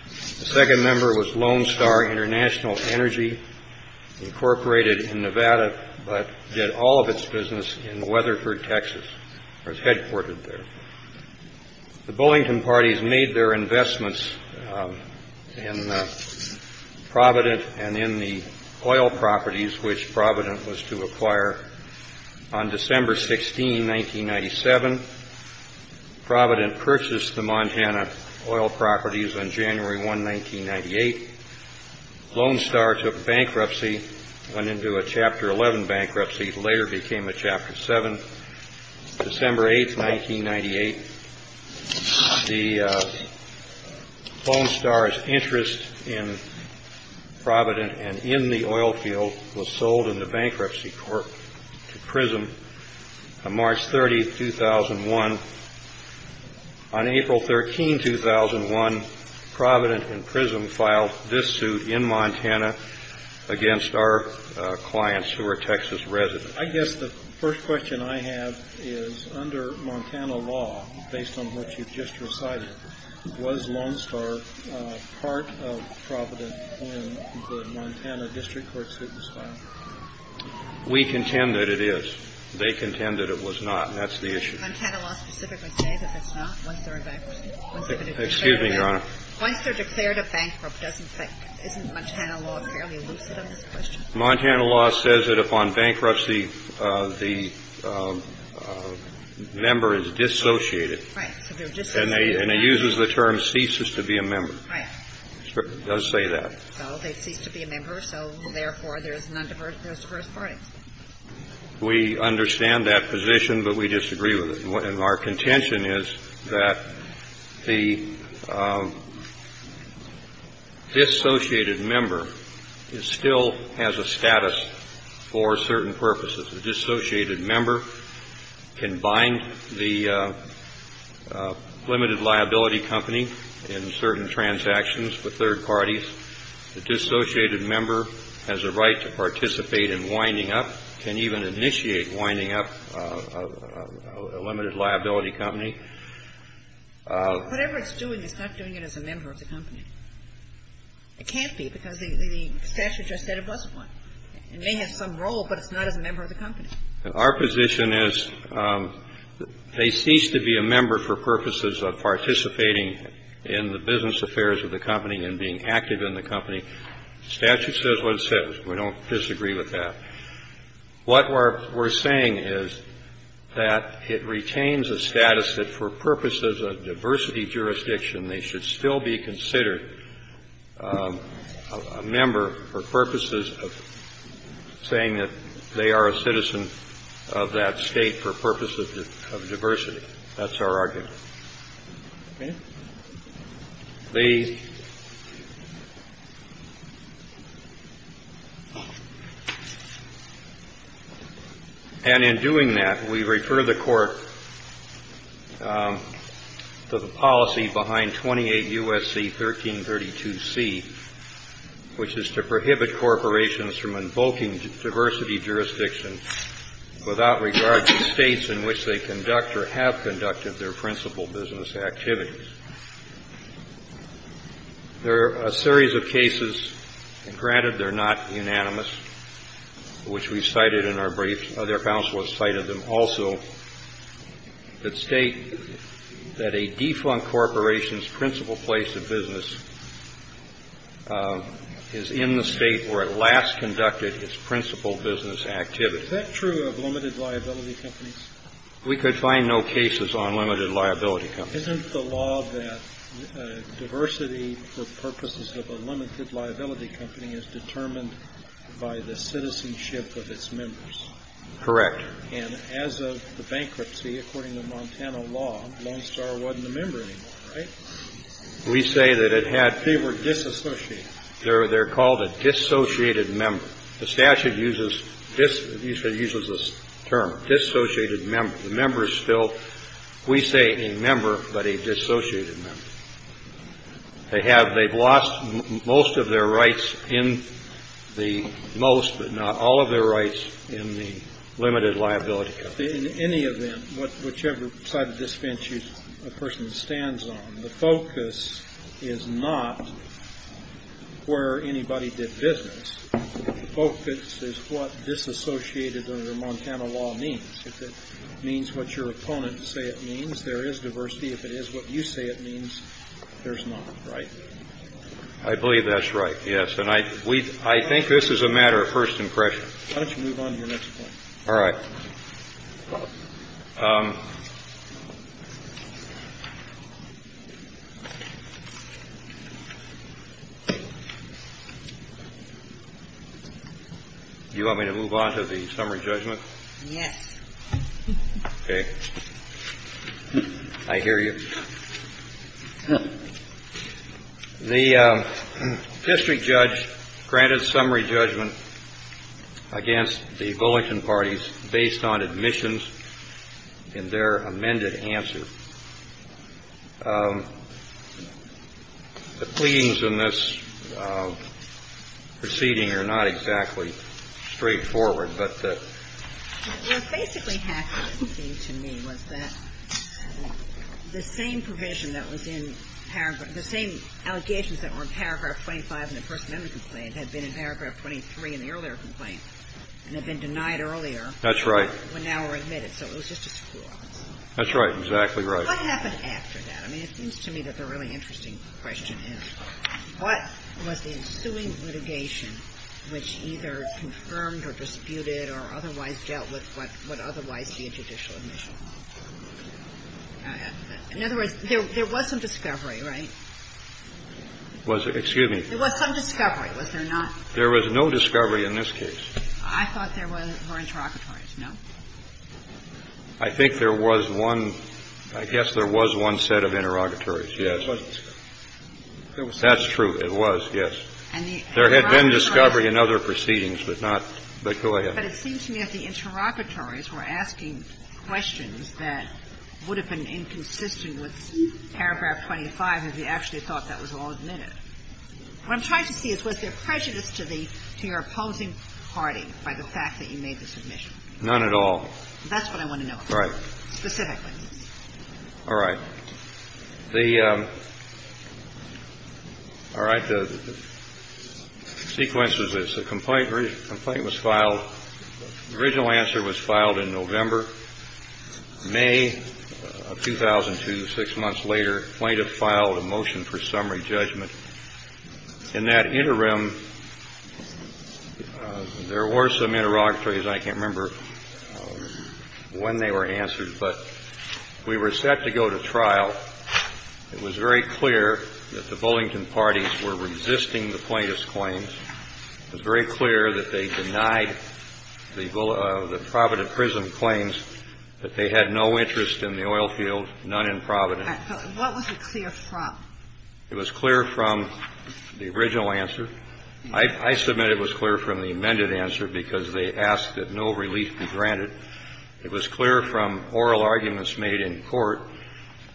The second member was Lone Star International Energy, incorporated in Nevada, but did all of its business in Weatherford, Texas. It was headquartered there. The Bullington parties made their investments in Providence and in the oil properties, which Providence was to acquire on December 16, 1997. Providence purchased the Montana oil properties on January 1, 1998. Lone Star took bankruptcy, went into a Chapter 11 bankruptcy, later became a Chapter 7. December 8, 1998, Lone Star's interest in Providence and in the oil field was sold in the bankruptcy court to Prism. March 30, 2001, on April 13, 2001, Providence and Prism filed this suit in Montana against our clients who were Texas residents. I guess the first question I have is, under Montana law, based on what you just recited, was Lone Star part of Providence when the Montana District Court suit was filed? We contend that it is. They contend that it was not, and that's the issue. Montana law specifically says that it's not Lone Star bankruptcy. Excuse me, Your Honor. Once they're declared a bankruptcy, isn't Montana law fairly loose, is that the question? Montana law says that upon bankruptcy, the member is dissociated. Right. And it uses the term ceases to be a member. Right. It does say that. So, they cease to be a member, so, therefore, there's Lone Star as the first party. We understand that position, but we disagree with it. And our contention is that the dissociated member still has a status for certain purposes. The dissociated member can bind the limited liability company in certain transactions to third parties. The dissociated member has a right to participate in winding up, can even initiate winding up a limited liability company. Whatever it's doing, it's not doing it as a member of the company. It can't be, because the statute just said it was one. It may have some role, but it's not as a member of the company. Our position is they cease to be a member for purposes of participating in the business affairs of the company and being active in the company. The statute says what it says. We don't disagree with that. What we're saying is that it retains a status that for purposes of diversity jurisdiction, they should still be considered a member for purposes of saying that they are a citizen of that state for purposes of diversity. That's our argument. Okay. They... And in doing that, we refer the court to the policy behind 28 U.S.C. 1332C, which is to prohibit corporations from invoking diversity jurisdiction without regard to states in which they conduct or have conducted their principal business activities. There are a series of cases, and granted they're not unanimous, which we cited in our briefs, other counselors cited them also, that state that a defunct corporation's principal place of business is in the state where it last conducted its principal business activity. Is that true of limited liability companies? We could find no cases on limited liability companies. Isn't the law that diversity for purposes of a limited liability company is determined by the citizenship of its members? Correct. And as of the bankruptcy, according to Montana law, Lone Star wasn't a member anymore, right? We say that it had... They were disassociated. They're called a dissociated member. The statute uses this term, dissociated member. The members still... We say a member, but a dissociated member. They have... They've lost most of their rights in the most, but not all of their rights in the limited liability. In any event, whichever side of this bench a person stands on, the focus is not where anybody did business. The focus is what disassociated under Montana law means. If it means what your opponents say it means, there is diversity. If it is what you say it means, there's not, right? I believe that's right, yes. And I think this is a matter of first impression. Why don't you move on to your next point? All right. Do you want me to move on to the summary judgment? Yes. Okay. I hear you. The district judge granted summary judgment against the Bulletin Parties based on admissions and their amended answer. The pleadings in this proceeding are not exactly straightforward, but... What basically happened to me was that the same provision that was in paragraph... The same allegations that were in paragraph 25 in the first amendment complaint had been in paragraph 23 in the earlier complaint, and had been denied earlier. That's right. But now were admitted, so it was just a score. That's right. Exactly right. What happened after that? I mean, it seems to me that the really interesting question is, What was the assuming litigation which either confirmed or disputed or otherwise dealt with what would otherwise be a judicial admission? In other words, there was some discovery, right? Excuse me? There was some discovery, was there not? There was no discovery in this case. I thought there were interrogatories, no? I think there was one... I guess there was one set of interrogatories, yes. That's true, it was, yes. There had been discovery in other proceedings, but not the Killian. But it seems to me that the interrogatories were asking questions that would have been inconsistent with paragraph 25, if they actually thought that was all admitted. What I'm trying to see is, was there prejudice to your opposing party by the fact that you made the submission? None at all. That's what I want to know. Right. Specifically. All right. The... All right, the sequence is this. The complaint was filed. The original answer was filed in November. May of 2002, six months later, plaintiff filed a motion for summary judgment. In that interim, there were some interrogatories. I can't remember when they were answered. But we were set to go to trial. It was very clear that the Bullington parties were resisting the plaintiff's claims. It was very clear that they denied the Providence Prison claims, that they had no interest in the oil field, none in Providence. What was it clear from? It was clear from the original answer. I submit it was clear from the amended answer, because they asked that no relief be granted. It was clear from oral arguments made in court.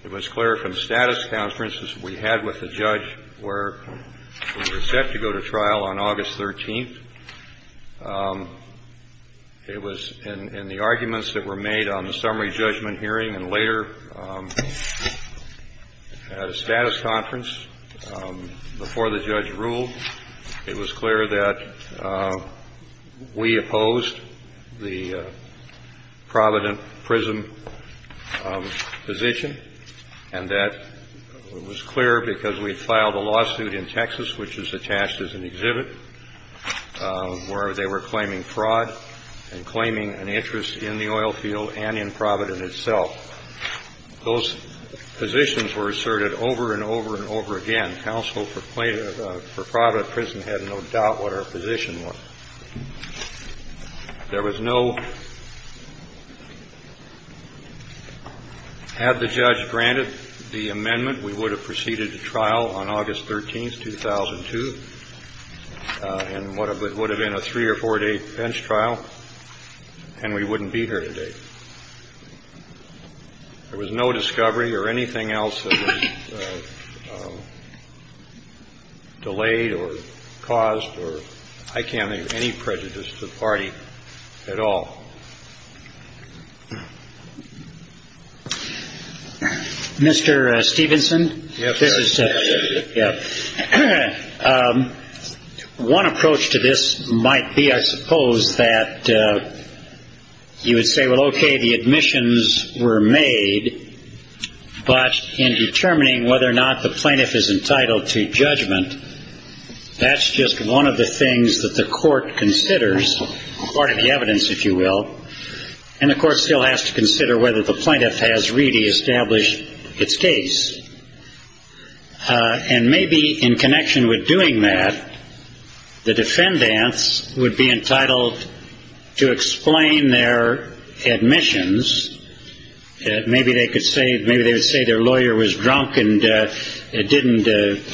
It was clear from status conferences we had with the judge where we were set to go to trial on August 13th. It was in the arguments that were made on the summary judgment hearing and later at a status conference before the judge ruled. It was clear that we opposed the Providence Prison position. And that was clear because we had filed a lawsuit in Texas, which was attached as an exhibit, where they were claiming fraud and claiming an interest in the oil field and in Providence itself. Those positions were asserted over and over and over again. Counsel for Providence Prison had no doubt what our position was. There was no... Had the judge granted the amendment, we would have proceeded to trial on August 13th, 2002. And it would have been a three- or four-day bench trial, and we wouldn't be here today. There was no discovery or anything else that was delayed or caused or... I can't make any prejudice to the party at all. Mr. Stevenson? Yes. One approach to this might be, I suppose, that you would say, well, okay, the admissions were made, but in determining whether or not the plaintiff is entitled to judgment, that's just one of the things that the court considers, part of the evidence, if you will, and the court still has to consider whether the plaintiff has really established its case. And maybe in connection with doing that, the defendants would be entitled to explain their admissions. Maybe they would say their lawyer was drunk and didn't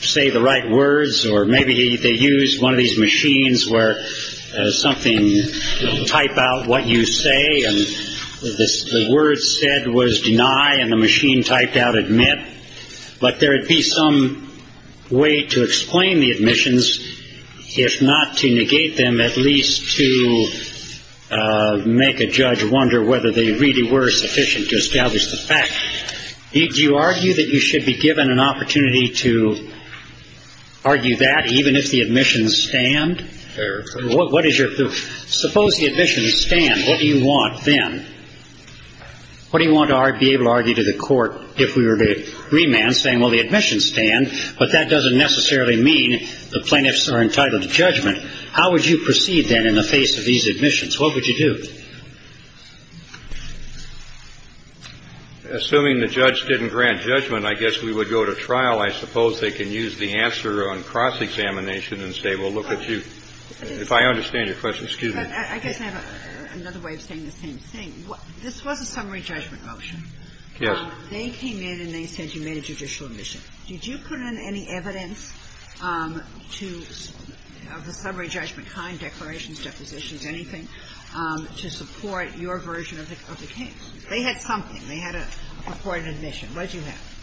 say the right words, or maybe they used one of these machines where something would type out what you say, and the word said was deny, and the machine typed out admit. But there would be some way to explain the admissions, if not to negate them, at least to make a judge wonder whether they really were sufficient to establish the fact. Do you argue that you should be given an opportunity to argue that, even if the admissions stand? Or what is your... Suppose the admissions stand. What do you want then? What do you want to be able to argue to the court if we were to remand saying, well, the admissions stand, but that doesn't necessarily mean the plaintiffs are entitled to judgment. How would you proceed then in the face of these admissions? What would you do? Assuming the judge didn't grant judgment, I guess we would go to trial. I suppose they can use the answer on cross-examination and say, well, look at you. If I understand your question. Excuse me. I guess I have another way of saying the same thing. This was a summary judgment motion. Yes. They came in and they said you made a judicial admission. Did you put in any evidence to a summary judgment kind, declarations, depositions, anything, to support your version of the case? They had something. They had a court admission. What did you have?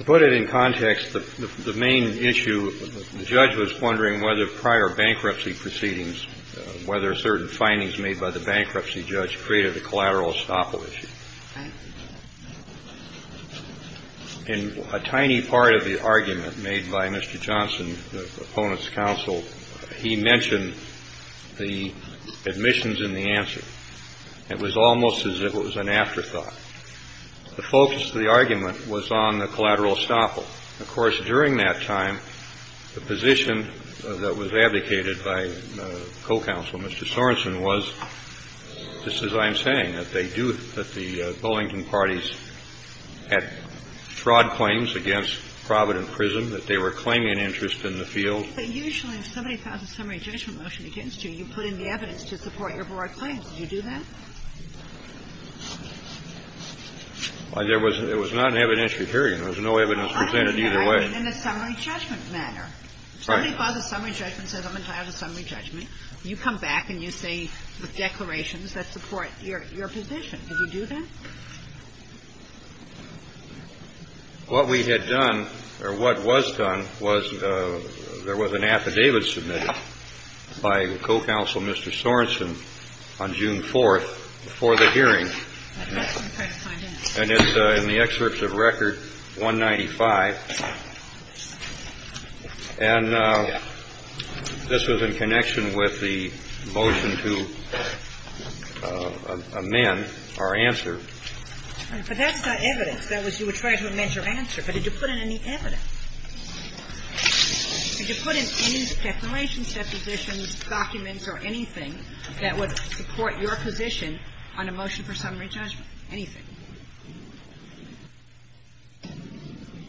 I put it in context. The main issue, the judge was wondering whether prior bankruptcy proceedings, whether certain findings made by the bankruptcy judge created a collateral estoppel issue. In a tiny part of the argument made by Mr. Johnson, the opponent's counsel, he mentioned the admissions in the answer. It was almost as if it was an afterthought. The focus of the argument was on the collateral estoppel. Of course, during that time, the position that was advocated by co-counsel Mr. Sorenson was, just as I'm saying, that they do, that the Wellington parties had fraud claims against Provident Prison, that they were claiming an interest in the field. You put in the evidence to support your fraud claim. Did you do that? It was not an evidentiary hearing. There was no evidence presented either way. In a summary judgment matter. Somebody filed a summary judgment, said I'm entitled to summary judgment. You come back and you say declarations that support your position. Did you do that? What we had done, or what was done, was there was an affidavit submitted by co-counsel Mr. Sorenson on June 4th before the hearing. And it's in the excerpts of record 195. And this was in connection with the motion to amend our answer. But that's not evidence. That was your measurement measure answer. But did you put in any evidence? Did you put in any declarations, depositions, documents, or anything that would support your position on a motion for summary judgment? Anything?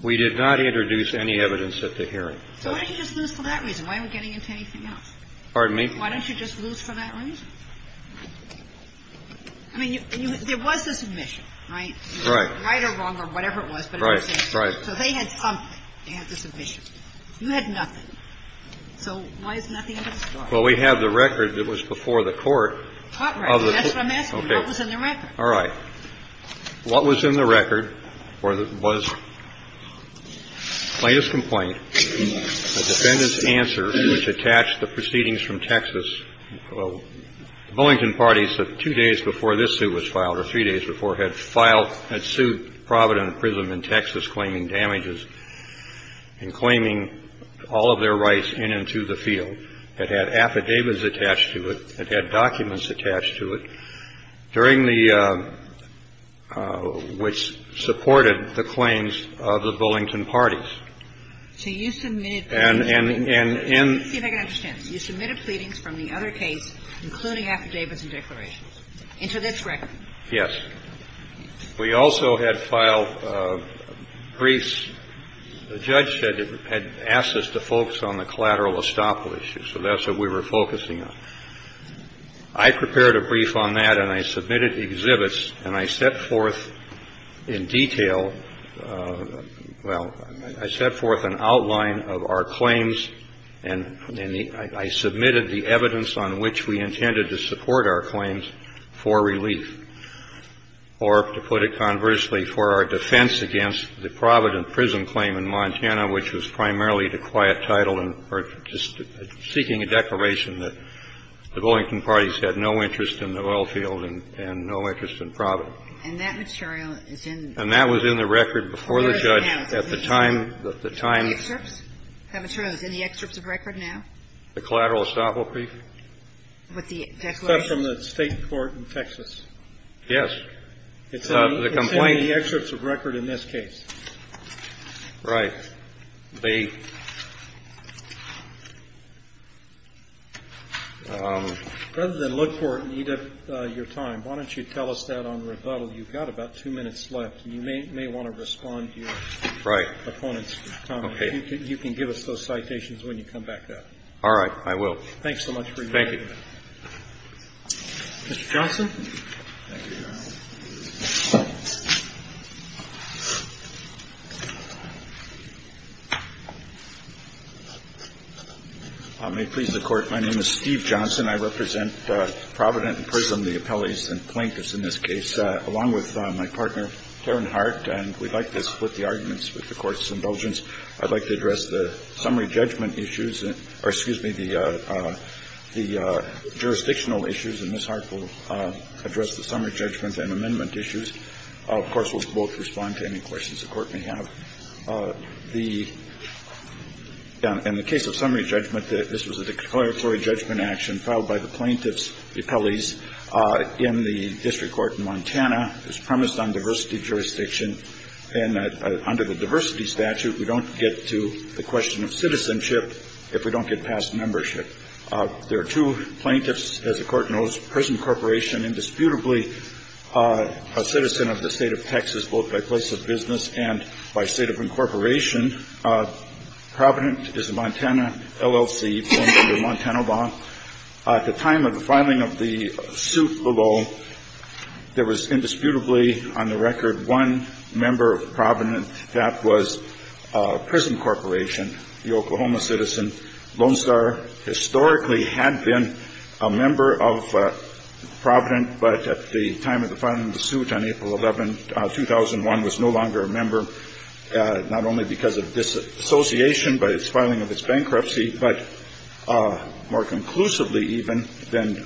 We did not introduce any evidence at the hearing. Why didn't you just lose for that reason? Why are we getting into anything else? Pardon me? Why don't you just lose for that reason? I mean, there was a submission, right? Right. Right or wrong or whatever it was. Right, right. So they had something. They had the submission. You had nothing. So why is nothing there? Well, we have the record that was before the court. That's what I'm asking. What was in the record? All right. What was in the record was a plaintiff's complaint, a defendant's answer, which attached the proceedings from Texas. The Billington party said two days before this suit was filed, or three days before, had sued Provident Prism in Texas claiming damages and claiming all of their rights in and to the field. It had affidavits attached to it. It had documents attached to it. During the ‑‑ which supported the claims of the Billington parties. So you submitted ‑‑ And ‑‑ Let me see if I can understand this. You submitted pleadings from the other case, including affidavits and declarations, into this record? Yes. We also had filed briefs. The judge had asked us to focus on the collateral estoppel issue. So that's what we were focusing on. I prepared a brief on that, and I submitted exhibits, and I set forth in detail, well, I set forth an outline of our claims, and I submitted the evidence on which we intended to support our claims for relief. Or, to put it conversely, for our defense against the Provident Prism claim in Montana, which was primarily the quiet title and seeking a declaration that the Billington parties had no interest in the oil field and no interest in Provident. And that material is in ‑‑ And that was in the record before the judge at the time ‑‑ The excerpts? That material is in the excerpts of record now? The collateral estoppel brief? With the declaration? Was that from the state court in Texas? Yes. The complaint? It's in the excerpts of record in this case. Right. Rather than look for it and eat up your time, why don't you tell us that on rebuttal? You've got about two minutes left, and you may want to respond to your opponents. Right. You can give us post-citations when you come back up. All right. I will. Thanks so much for your time. Thank you. Mr. Johnson? Thank you, Your Honor. I may please the Court. My name is Steve Johnson. I represent Provident Prism, the appellees and plaintiffs in this case, along with my partner, Thorne Hart. And we'd like to split the arguments with the Court's indulgence. I'd like to address the summary judgment issues or, excuse me, the jurisdictional issues, and Ms. Hart will address the summary judgment and amendment issues. Of course, we'll both respond to any questions the Court may have. In the case of summary judgment, this was a declaratory judgment action filed by the plaintiffs, appellees in the District Court in Montana. It was premised on diversity jurisdiction. And under the diversity statute, we don't get to the question of citizenship if we don't get past membership. There are two plaintiffs, as the Court knows, Prism Corporation indisputably a citizen of the state of Texas, both by place of business and by state of incorporation. Provident is the Montana LLC going under the Montana law. At the time of the filing of the suit below, there was indisputably, on the record, one member of Provident. That was Prism Corporation, the Oklahoma citizen. Lone Star historically had been a member of Provident, but at the time of the filing of the suit on April 11, 2001, was no longer a member, not only because of disassociation by its filing of its bankruptcy, but more conclusively even than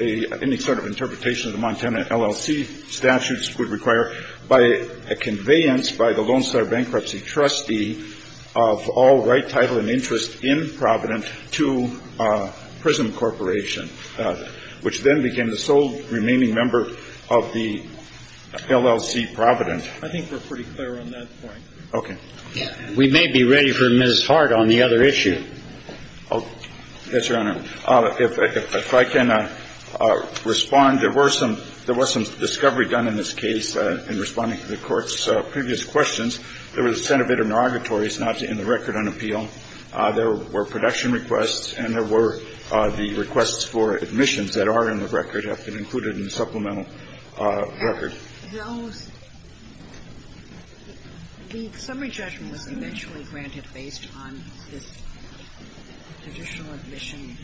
any sort of interpretation of the Montana LLC statutes would require, by a conveyance by the Lone Star bankruptcy trustee of all right, title, and interest in Provident to Prism Corporation, which then became the sole remaining member of the LLC Provident. I think we're pretty clear on that point. Okay. We may be ready for Ms. Hart on the other issue. Yes, Your Honor. If I can respond. There was some discovery done in this case in responding to the Court's previous questions. There was a set of interrogatories not in the record on appeal. There were production requests, and there were the requests for admissions that are in the record have been included in the supplemental record. Now, the summary judgment was eventually granted based on this judicial admission.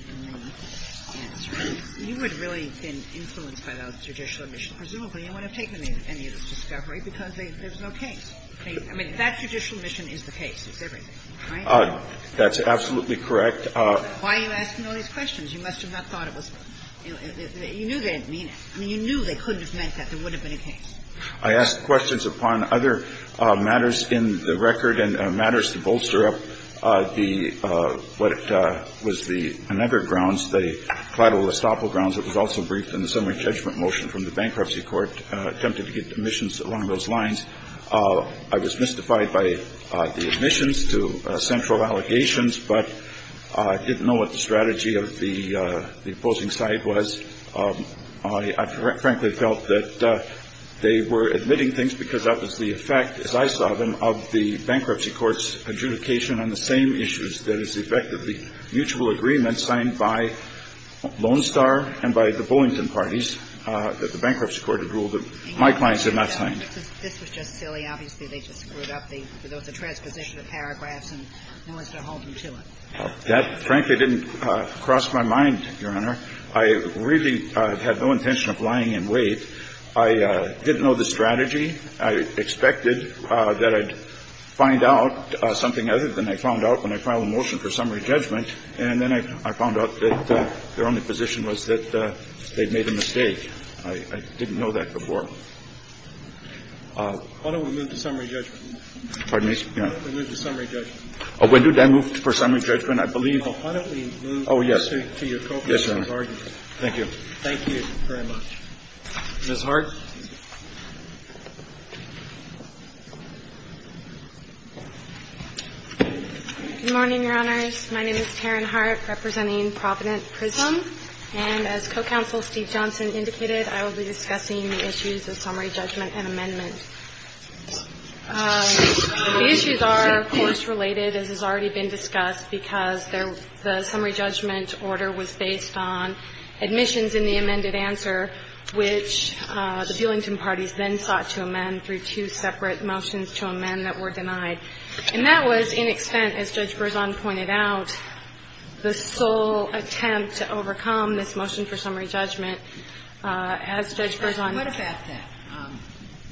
You had really been influenced by the judicial admission. Presumably, you wouldn't have taken any of this discovery because there's no case. I mean, that judicial admission is the case. That's absolutely correct. Why are you asking all these questions? You must have not thought it was. You knew they didn't mean it. I mean, you knew they couldn't have meant that. It would have been a case. I asked questions upon other matters in the record and matters to bolster up what was the another grounds, the collateral estoppel grounds that was also briefed in the summary judgment motion from the bankruptcy court attempted to get admissions along those lines. I was mystified by the admissions to central allegations, but I didn't know what the strategy of the opposing side was. I frankly felt that they were admitting things because that was the effect, as I saw them, of the bankruptcy court's adjudication on the same issues, that is effectively mutual agreements signed by Lone Star and by the Boeington parties that the bankruptcy court had ruled. My clients had not signed. This was just silly. Obviously, they just screwed up the transposition of paragraphs and wanted to hold them to it. That frankly didn't cross my mind, Your Honor. I really had no intention of lying in wait. I didn't know the strategy. I expected that I'd find out something other than I found out when I filed a motion for summary judgment, and then I found out that their only position was that they'd made a mistake. I didn't know that before. Why don't we move to summary judgment? Pardon me? Why don't we move to summary judgment? When do I move for summary judgment? I believe— Why don't we move— Oh, yes. Yes, Your Honor. Thank you. Thank you very much. Ms. Hart? Good morning, Your Honor. My name is Karen Hart representing Providence Prisons, and as Co-Counsel Steve Johnson indicated, I will be discussing the issues of summary judgment and amendments. The issues are courts-related, as has already been discussed, because the summary judgment order was based on admissions in the amended answer, which the Billington parties then sought to amend through two separate motions to amend that were denied. And that was in extent, as Judge Berzon pointed out, the sole attempt to overcome this motion for summary judgment. As Judge Berzon— What about that?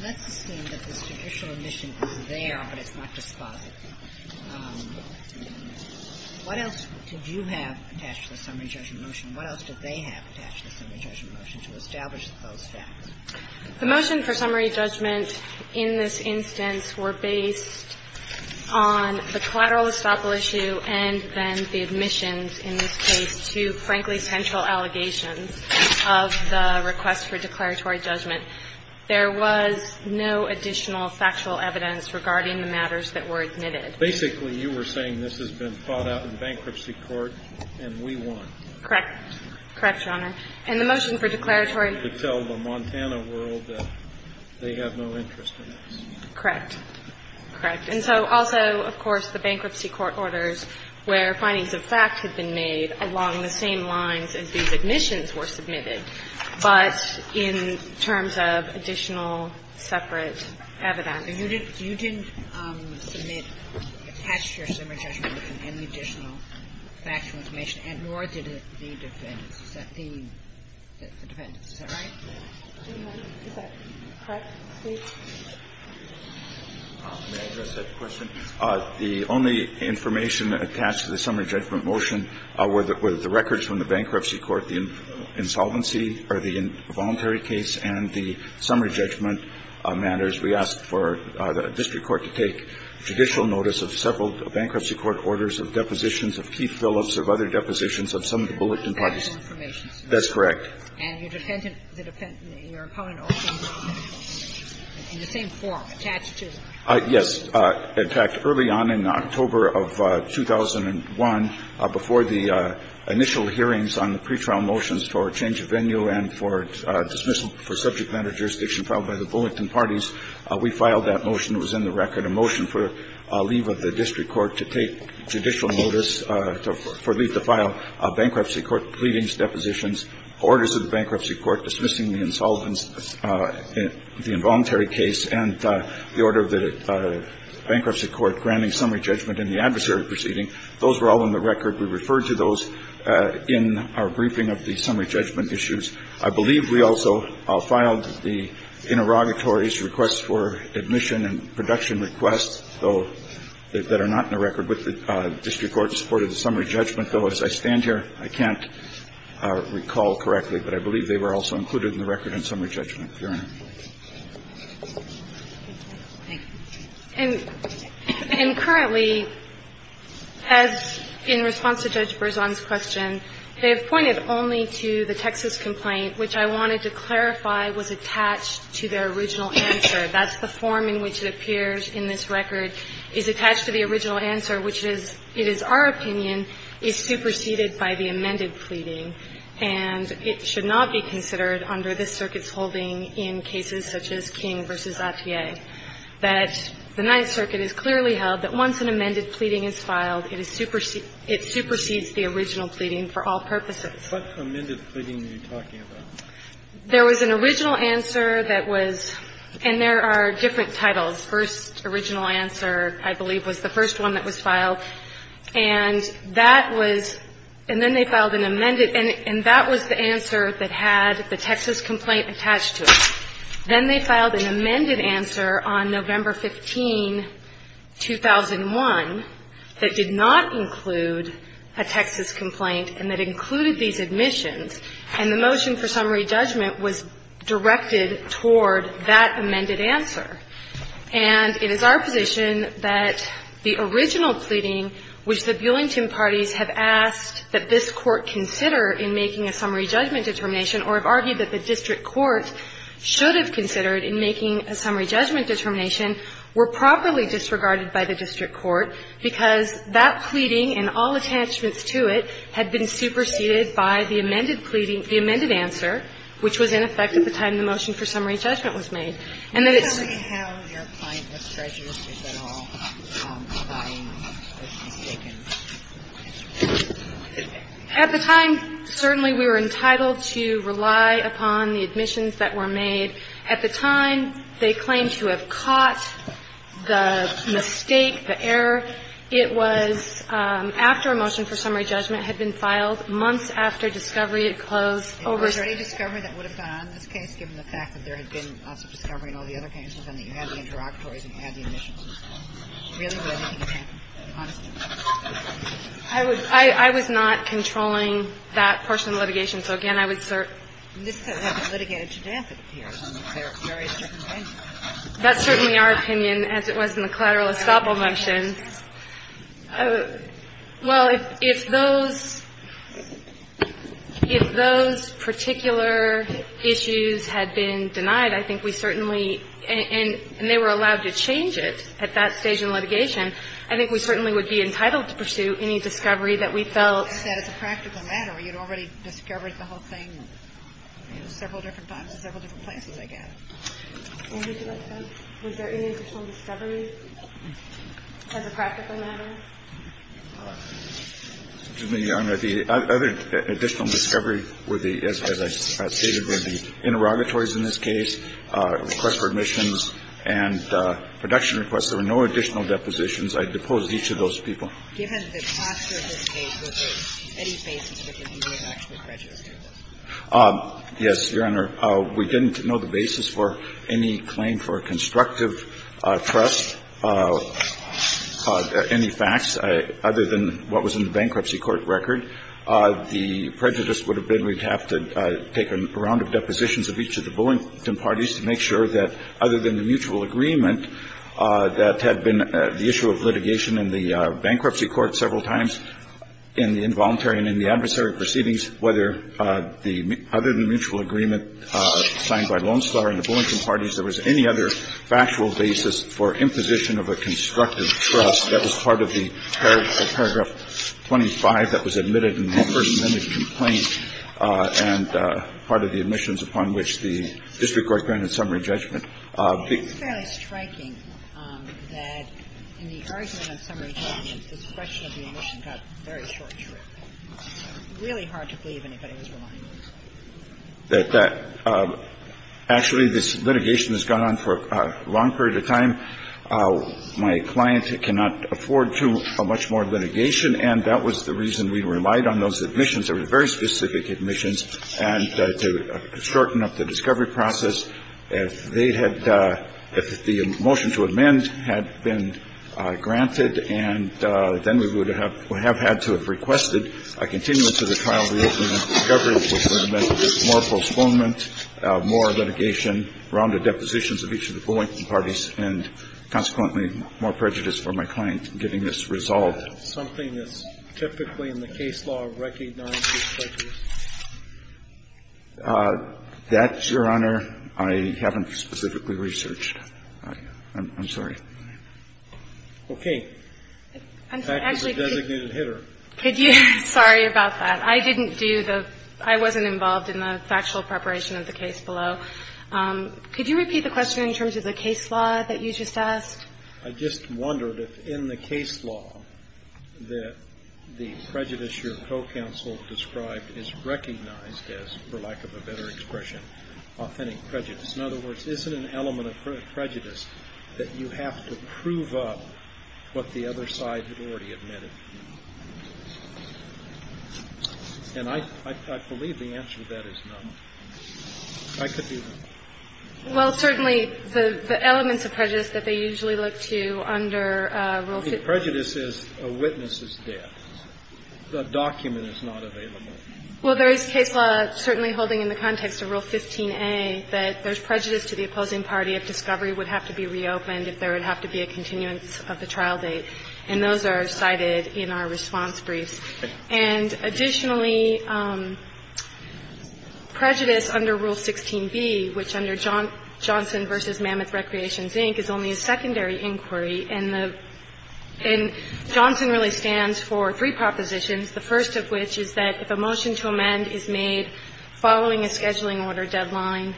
Not to say that the judicial admissions were there, but it's not just part of it. What else did you have attached to the summary judgment motion? What else did they have attached to the summary judgment motion to establish that? The motion for summary judgment in this instance were based on the collateral estoppel issue and then the admissions in this case to, frankly, potential allegations of the request for declaratory judgment. There was no additional factual evidence regarding the matters that were admitted. Basically, you were saying this has been thought out in bankruptcy court, and we won. Correct. Correct, Your Honor. And the motion for declaratory— To tell the Montana world that they have no interest in this. Correct. Correct. And so also, of course, the bankruptcy court orders where findings of facts had been made along the same lines as these admissions were submitted, but in terms of additional separate evidence. Your Honor, you didn't attach your summary judgment motion to any additional factual information, nor did it need to be defended. Is that right? Correct. Correct. Please. May I address that question? The only information attached to the summary judgment motion were the records from the bankruptcy court, the involuntary case, and the summary judgment matters. We asked for the district court to take judicial notice of several bankruptcy court orders, of depositions of key fill-ups, of other depositions of some of the Bulletin Parties. That's correct. And your defendant, your opponent also, in the same form, attached to— Yes. In fact, early on in October of 2001, before the initial hearings on the pretrial motions for change of venue and for dismissal for subject matter jurisdiction filed by the Bulletin Parties, we filed that motion. It was in the record, a motion for leave of the district court to take judicial notice for leave to file bankruptcy court pleadings, depositions, orders of the bankruptcy court dismissing the involuntary case, and the order of the bankruptcy court granting summary judgment in the adversary proceeding. Those were all in the record. We referred to those in our briefing of the summary judgment issues. I believe we also filed the interrogatory requests for admission and production requests, though, that are not in the record with the district court in support of the summary judgment. Though, as I stand here, I can't recall correctly, but I believe they were also included in the record in summary judgment. Your Honor. Thank you. And currently, as in response to Judge Berzon's question, they have pointed only to the Texas complaint, which I wanted to clarify was attached to their original answer. That's the form in which it appears in this record. It's attached to the original answer, which is, it is our opinion, is superseded by the amended pleading, and it should not be considered under this circuit's holding in cases such as King v. Lafayette. But the Ninth Circuit has clearly held that once an amended pleading is filed, it supersedes the original pleading for all purposes. What amended pleading are you talking about? There was an original answer that was, and there are different titles. First original answer, I believe, was the first one that was filed. And that was, and then they filed an amended, and that was the answer that had the Texas complaint attached to it. Then they filed an amended answer on November 15, 2001, that did not include a Texas complaint and that included these admissions. And the motion for summary judgment was directed toward that amended answer. And it is our position that the original pleading, which the Bulington parties have asked that this court consider in making a summary judgment determination, or have argued that the district court should have considered in making a summary judgment determination, were properly disregarded by the district court because that pleading and all attachments to it had been superseded by the amended pleading, the amended answer, which was in effect at the time the motion for summary judgment was made. And then it- Do you have your point of treasure, if at all, At the time, certainly we were entitled to rely upon the admissions that were made. At the time, they claimed to have caught the mistake, the error. It was after a motion for summary judgment had been filed, months after discovery had closed- Was there any discovery that would have gone in this case, given the fact that there had been discovery and all the other things, and that you had the interlocutories and you had the admissions? I was not controlling that personal litigation. So, again, I would assert- This case has been litigated to death. That's certainly our opinion, as it was in the collateral assault motion. Well, if those particular issues had been denied, I think we certainly- and they were allowed to change it at that stage in litigation- I think we certainly would be entitled to pursue any discovery that we felt- I said it's a practical matter. You'd already discovered the whole thing in several different times and several different places, I guess. Was there any additional discovery, as a practical matter? The additional discovery were the SI license pass data, the interlocutories in this case, request for admissions, and production requests. There were no additional depositions. I disclosed each of those people. Given the cost of this case, was there any basis that you didn't actually legislate? Yes, Your Honor. We didn't know the basis for any claim for constructive trust, any facts, other than what was in the bankruptcy court record. The prejudice would have been we'd have to take a round of depositions of each of the bulletin parties to make sure that, other than the mutual agreement, that had been the issue of litigation in the bankruptcy court several times, in the involuntary and in the adversary proceedings, whether the other than mutual agreement signed by Lone Star and the bulletin parties, there was any other factual basis for imposition of a constructive trust that was part of the paragraph 25 that was admitted in the first minute of the complaint and part of the admissions upon which the district court granted summary judgment. It's fairly striking that in the argument of summary judgment, the expression of the admission got very short-churned. It's really hard to believe anybody was willing to do this. Actually, this litigation has gone on for a long period of time. My client cannot afford to a much more litigation, and that was the reason we relied on those admissions. They were very specific admissions, and to shorten up the discovery process, the motion to amend had been granted, and then we would have had to have requested a continuity to the trial reason, and the discovery was that it meant more postponement, more litigation around the depositions of each of the bulletin parties, and consequently, more prejudice for my client in getting this resolved. Is that something that's typically in the case law recognized as prejudice? That, Your Honor, I haven't specifically researched. I'm sorry. Okay. I'm sorry about that. I didn't do the – I wasn't involved in the factual preparation of the case below. Could you repeat the question in terms of the case law that you just asked? I just wondered if, in the case law, the prejudice your co-counsel described is recognized as, for lack of a better expression, authentic prejudice. In other words, is it an element of prejudice that you have to prove up what the other side has already admitted? And I believe the answer to that is no. I could do that. Well, certainly the elements of prejudice that they usually look to under Rule 15- I mean, prejudice is a witness's death. The document is not available. Well, there is case law certainly holding in the context of Rule 15a that there's prejudice to the opposing party if discovery would have to be reopened, if there would have to be a continuance of the trial date, and those are cited in our response brief. And additionally, prejudice under Rule 16b, which under Johnson v. Mammoth Recreation, Inc., is only a secondary inquiry, and Johnson really stands for three propositions, the first of which is that if a motion to amend is made following a scheduling order deadline,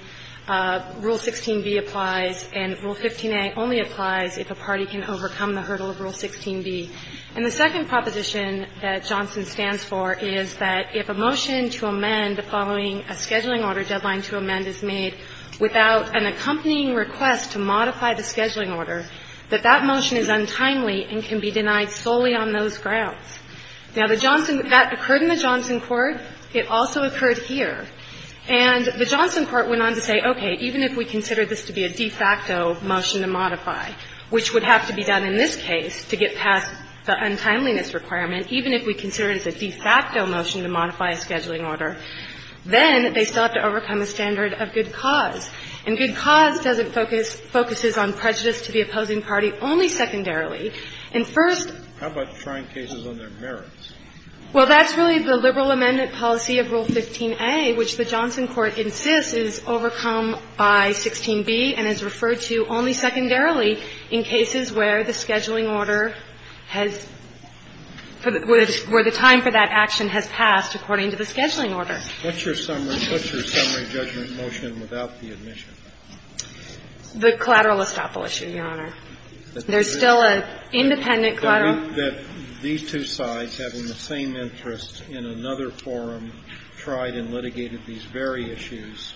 Rule 16b applies, and Rule 15a only applies if a party can overcome the hurdle of Rule 16b. And the second proposition that Johnson stands for is that if a motion to amend following a scheduling order deadline to amend is made without an accompanying request to modify the scheduling order, that that motion is untimely and can be denied solely on those grounds. Now, that occurred in the Johnson court. It also occurred here. And the Johnson court went on to say, okay, even if we consider this to be a de facto motion to modify, which would have to be done in this case to get past the untimeliness requirement, even if we consider it a de facto motion to modify a scheduling order, then they sought to overcome a standard of good cause. And good cause focuses on prejudice to the opposing party only secondarily. And first — How about trying cases on their merits? Well, that's really the liberal amendment policy of Rule 15a, which the Johnson court insists is overcome by 16b and is referred to only secondarily in cases where the scheduling order has — where the time for that action has passed according to the scheduling order. What's your summary judgment motion without the admission? The collateral estoppel issue, Your Honor. There's still an independent collateral — I think that these two sides having the same interest in another forum tried and litigated these very issues.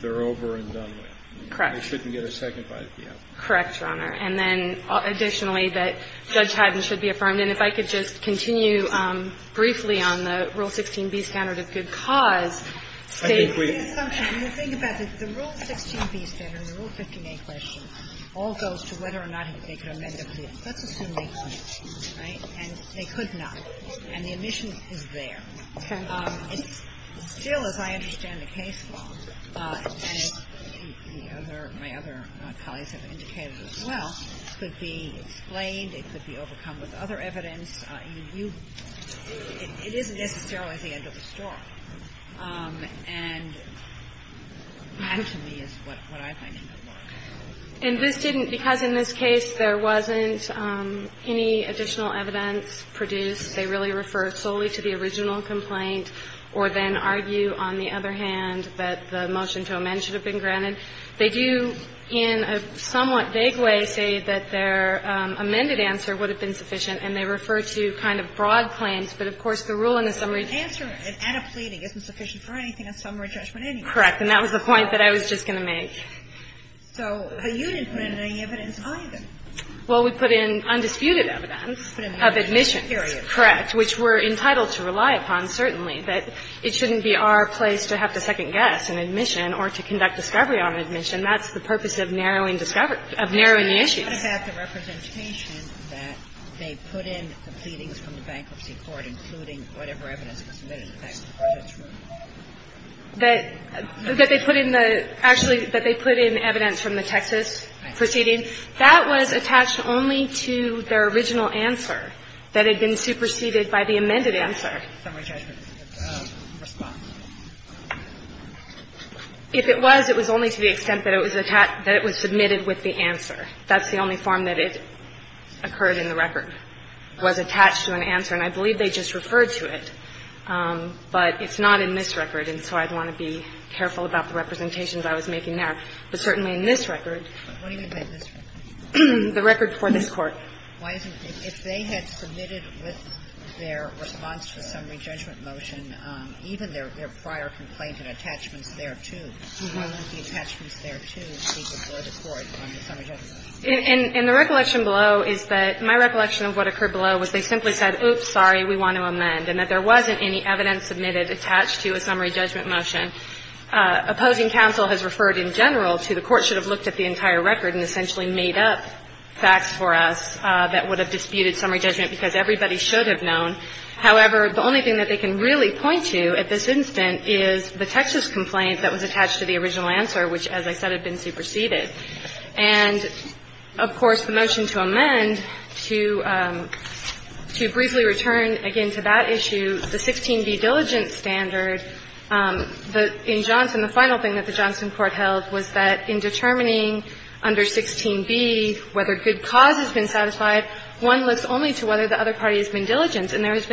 They're over and done with. Correct. They shouldn't get a second bite at the end. Correct, Your Honor. And then, additionally, that Judge Padden should be affirmed. And if I could just continue briefly on the Rule 15b standard of good cause. I think we — When you think about this, the Rule 15b standard, the Rule 15a question, all goes to whether or not they could amend it for the purpose of impeachment. Right? And they could not. And the admission is there. Still, as I understand the case law, and as my other colleagues have indicated as well, it could be explained, it could be overcome with other evidence. It isn't necessarily the end of the story. And actually is what I think it is. And this didn't — because in this case, there wasn't any additional evidence produced. They really refer solely to the original complaint or then argue, on the other hand, that the motion to amend should have been granted. They do, in a somewhat vague way, say that their amended answer would have been sufficient, and they refer to kind of broad plans. But, of course, the Rule in the summary — The answer, if adequate, isn't sufficient for anything in the summary judgment anyway. Correct. And that was the point that I was just going to make. So, the union's mandating evidence behind it. Well, we put in undisputed evidence of admission. Here it is. Correct, which we're entitled to rely upon, certainly. But it shouldn't be our place to have to second-guess an admission or to conduct discovery on admission. That's the purpose of narrowing the issue. Didn't you have the representation that they put in proceedings from the bankruptcy court, including whatever evidence was submitted in the summary judgment? That they put in the — actually, that they put in evidence from the Texas proceedings? That was attached only to their original answer that had been superseded by the amended answer. Summary judgment. If it was, it was only to the extent that it was submitted with the answer. That's the only form that it occurred in the record, was attached to an answer. And I believe they just referred to it. But it's not in this record, and so I'd want to be careful about the representations I was making there. But certainly in this record — What do you mean by this record? The record for this court. Why isn't it? If they had submitted with their response summary judgment motion, even their prior complaints and attachments there, too. And the recollection below is that my recollection of what occurred below was they simply said, oops, sorry, we want to amend. And that there wasn't any evidence submitted attached to a summary judgment motion. Opposing counsel has referred in general to the court should have looked at the entire record and essentially made up facts for us that would have disputed summary judgment, because everybody should have known. However, the only thing that they can really point to at this instant is the Texas complaint that was attached to the original answer, which, as I said, had been superseded. And, of course, the motion to amend, to briefly return again to that issue, the 16B diligence standard. In Johnson, the final thing that the Johnson court held was that in determining under 16B whether good cause has been satisfied, one looks only to whether the other party has been diligent. And then if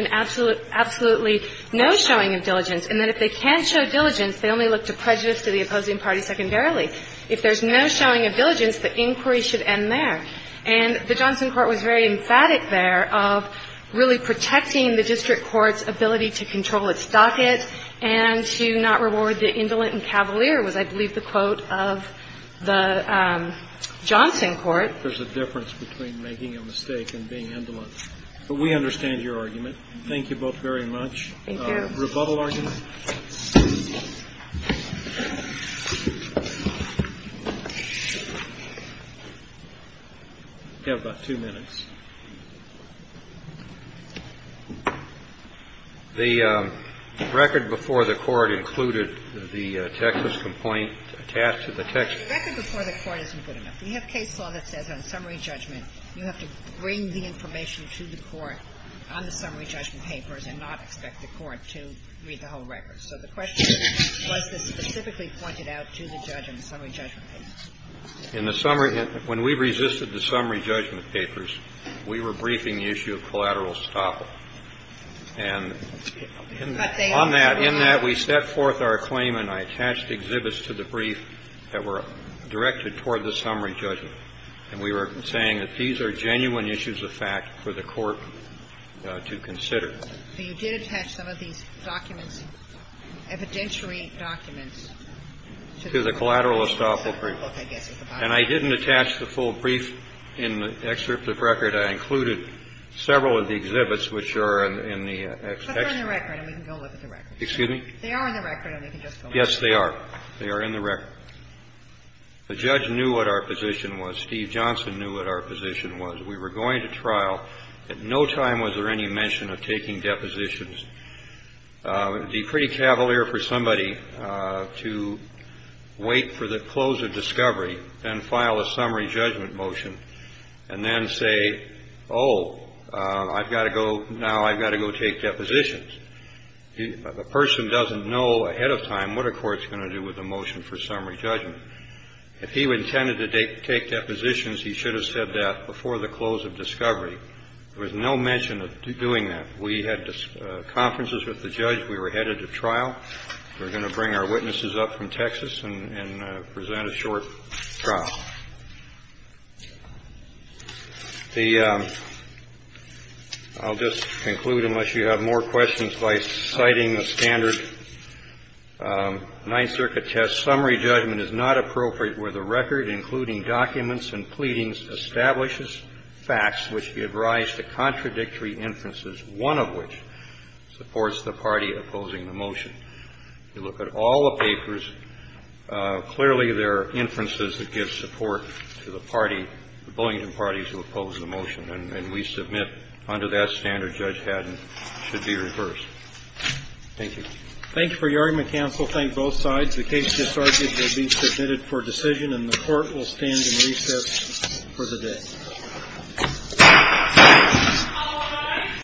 they can't show diligence, they only look to prejudice to the opposing party secondarily. If there's no showing of diligence, the inquiry should end there. And the Johnson court was very emphatic there of really protecting the district court's ability to control its docket and to not reward the indolent and cavalier was, I believe, the quote of the Johnson court. There's a difference between making a mistake and being indolent. We understand your argument. Thank you both very much. Rebuttal argument? We've got about two minutes. The record before the court included the Texas complaint attached to the Texas. The record before the court isn't good enough. We have case law that says on summary judgment you have to bring the information to the court on the summary judgment papers and not expect the court to read the whole record. So the question was specifically pointed out to the judge in the summary judgment papers. In the summary – when we resisted the summary judgment papers, we were briefing the issue of collateral estoppel. And in that we set forth our claim and I attached exhibits to the brief that were directed toward the summary judgment. And we were saying that these are genuine issues of fact for the court to consider. So you did attach some of these documents, evidentiary documents. To the collateral estoppel brief. And I didn't attach the full brief in the excerpt of record. I included several of the exhibits which are in the – But they're in the record and we can go look at the record. Excuse me? They are in the record. Yes, they are. They are in the record. The judge knew what our position was. Steve Johnson knew what our position was. We were going to trial. At no time was there any mention of taking depositions. It would be pretty cavalier for somebody to wait for the close of discovery and file a summary judgment motion. And then say, oh, I've got to go – now I've got to go take depositions. A person doesn't know ahead of time what a court's going to do with a motion for summary judgment. If he intended to take depositions, he should have said that before the close of discovery. There was no mention of doing that. We had conferences with the judge. We were headed to trial. We're going to bring our witnesses up from Texas and present a short trial. I'll just conclude unless you have more questions by citing the standard. Ninth Circuit test summary judgment is not appropriate where the record, including documents and pleadings, establishes facts which give rise to contradictory inferences, one of which supports the party opposing the motion. If you look at all the papers, clearly there are inferences that give support to the party, the Bullion party, to oppose the motion. And we submit under that standard, Judge Haddon, it should be reversed. Thank you. Thanks for your argument, counsel. Thank both sides. The case gets argued. It will be submitted for decision, and the court will stand in recess for the day.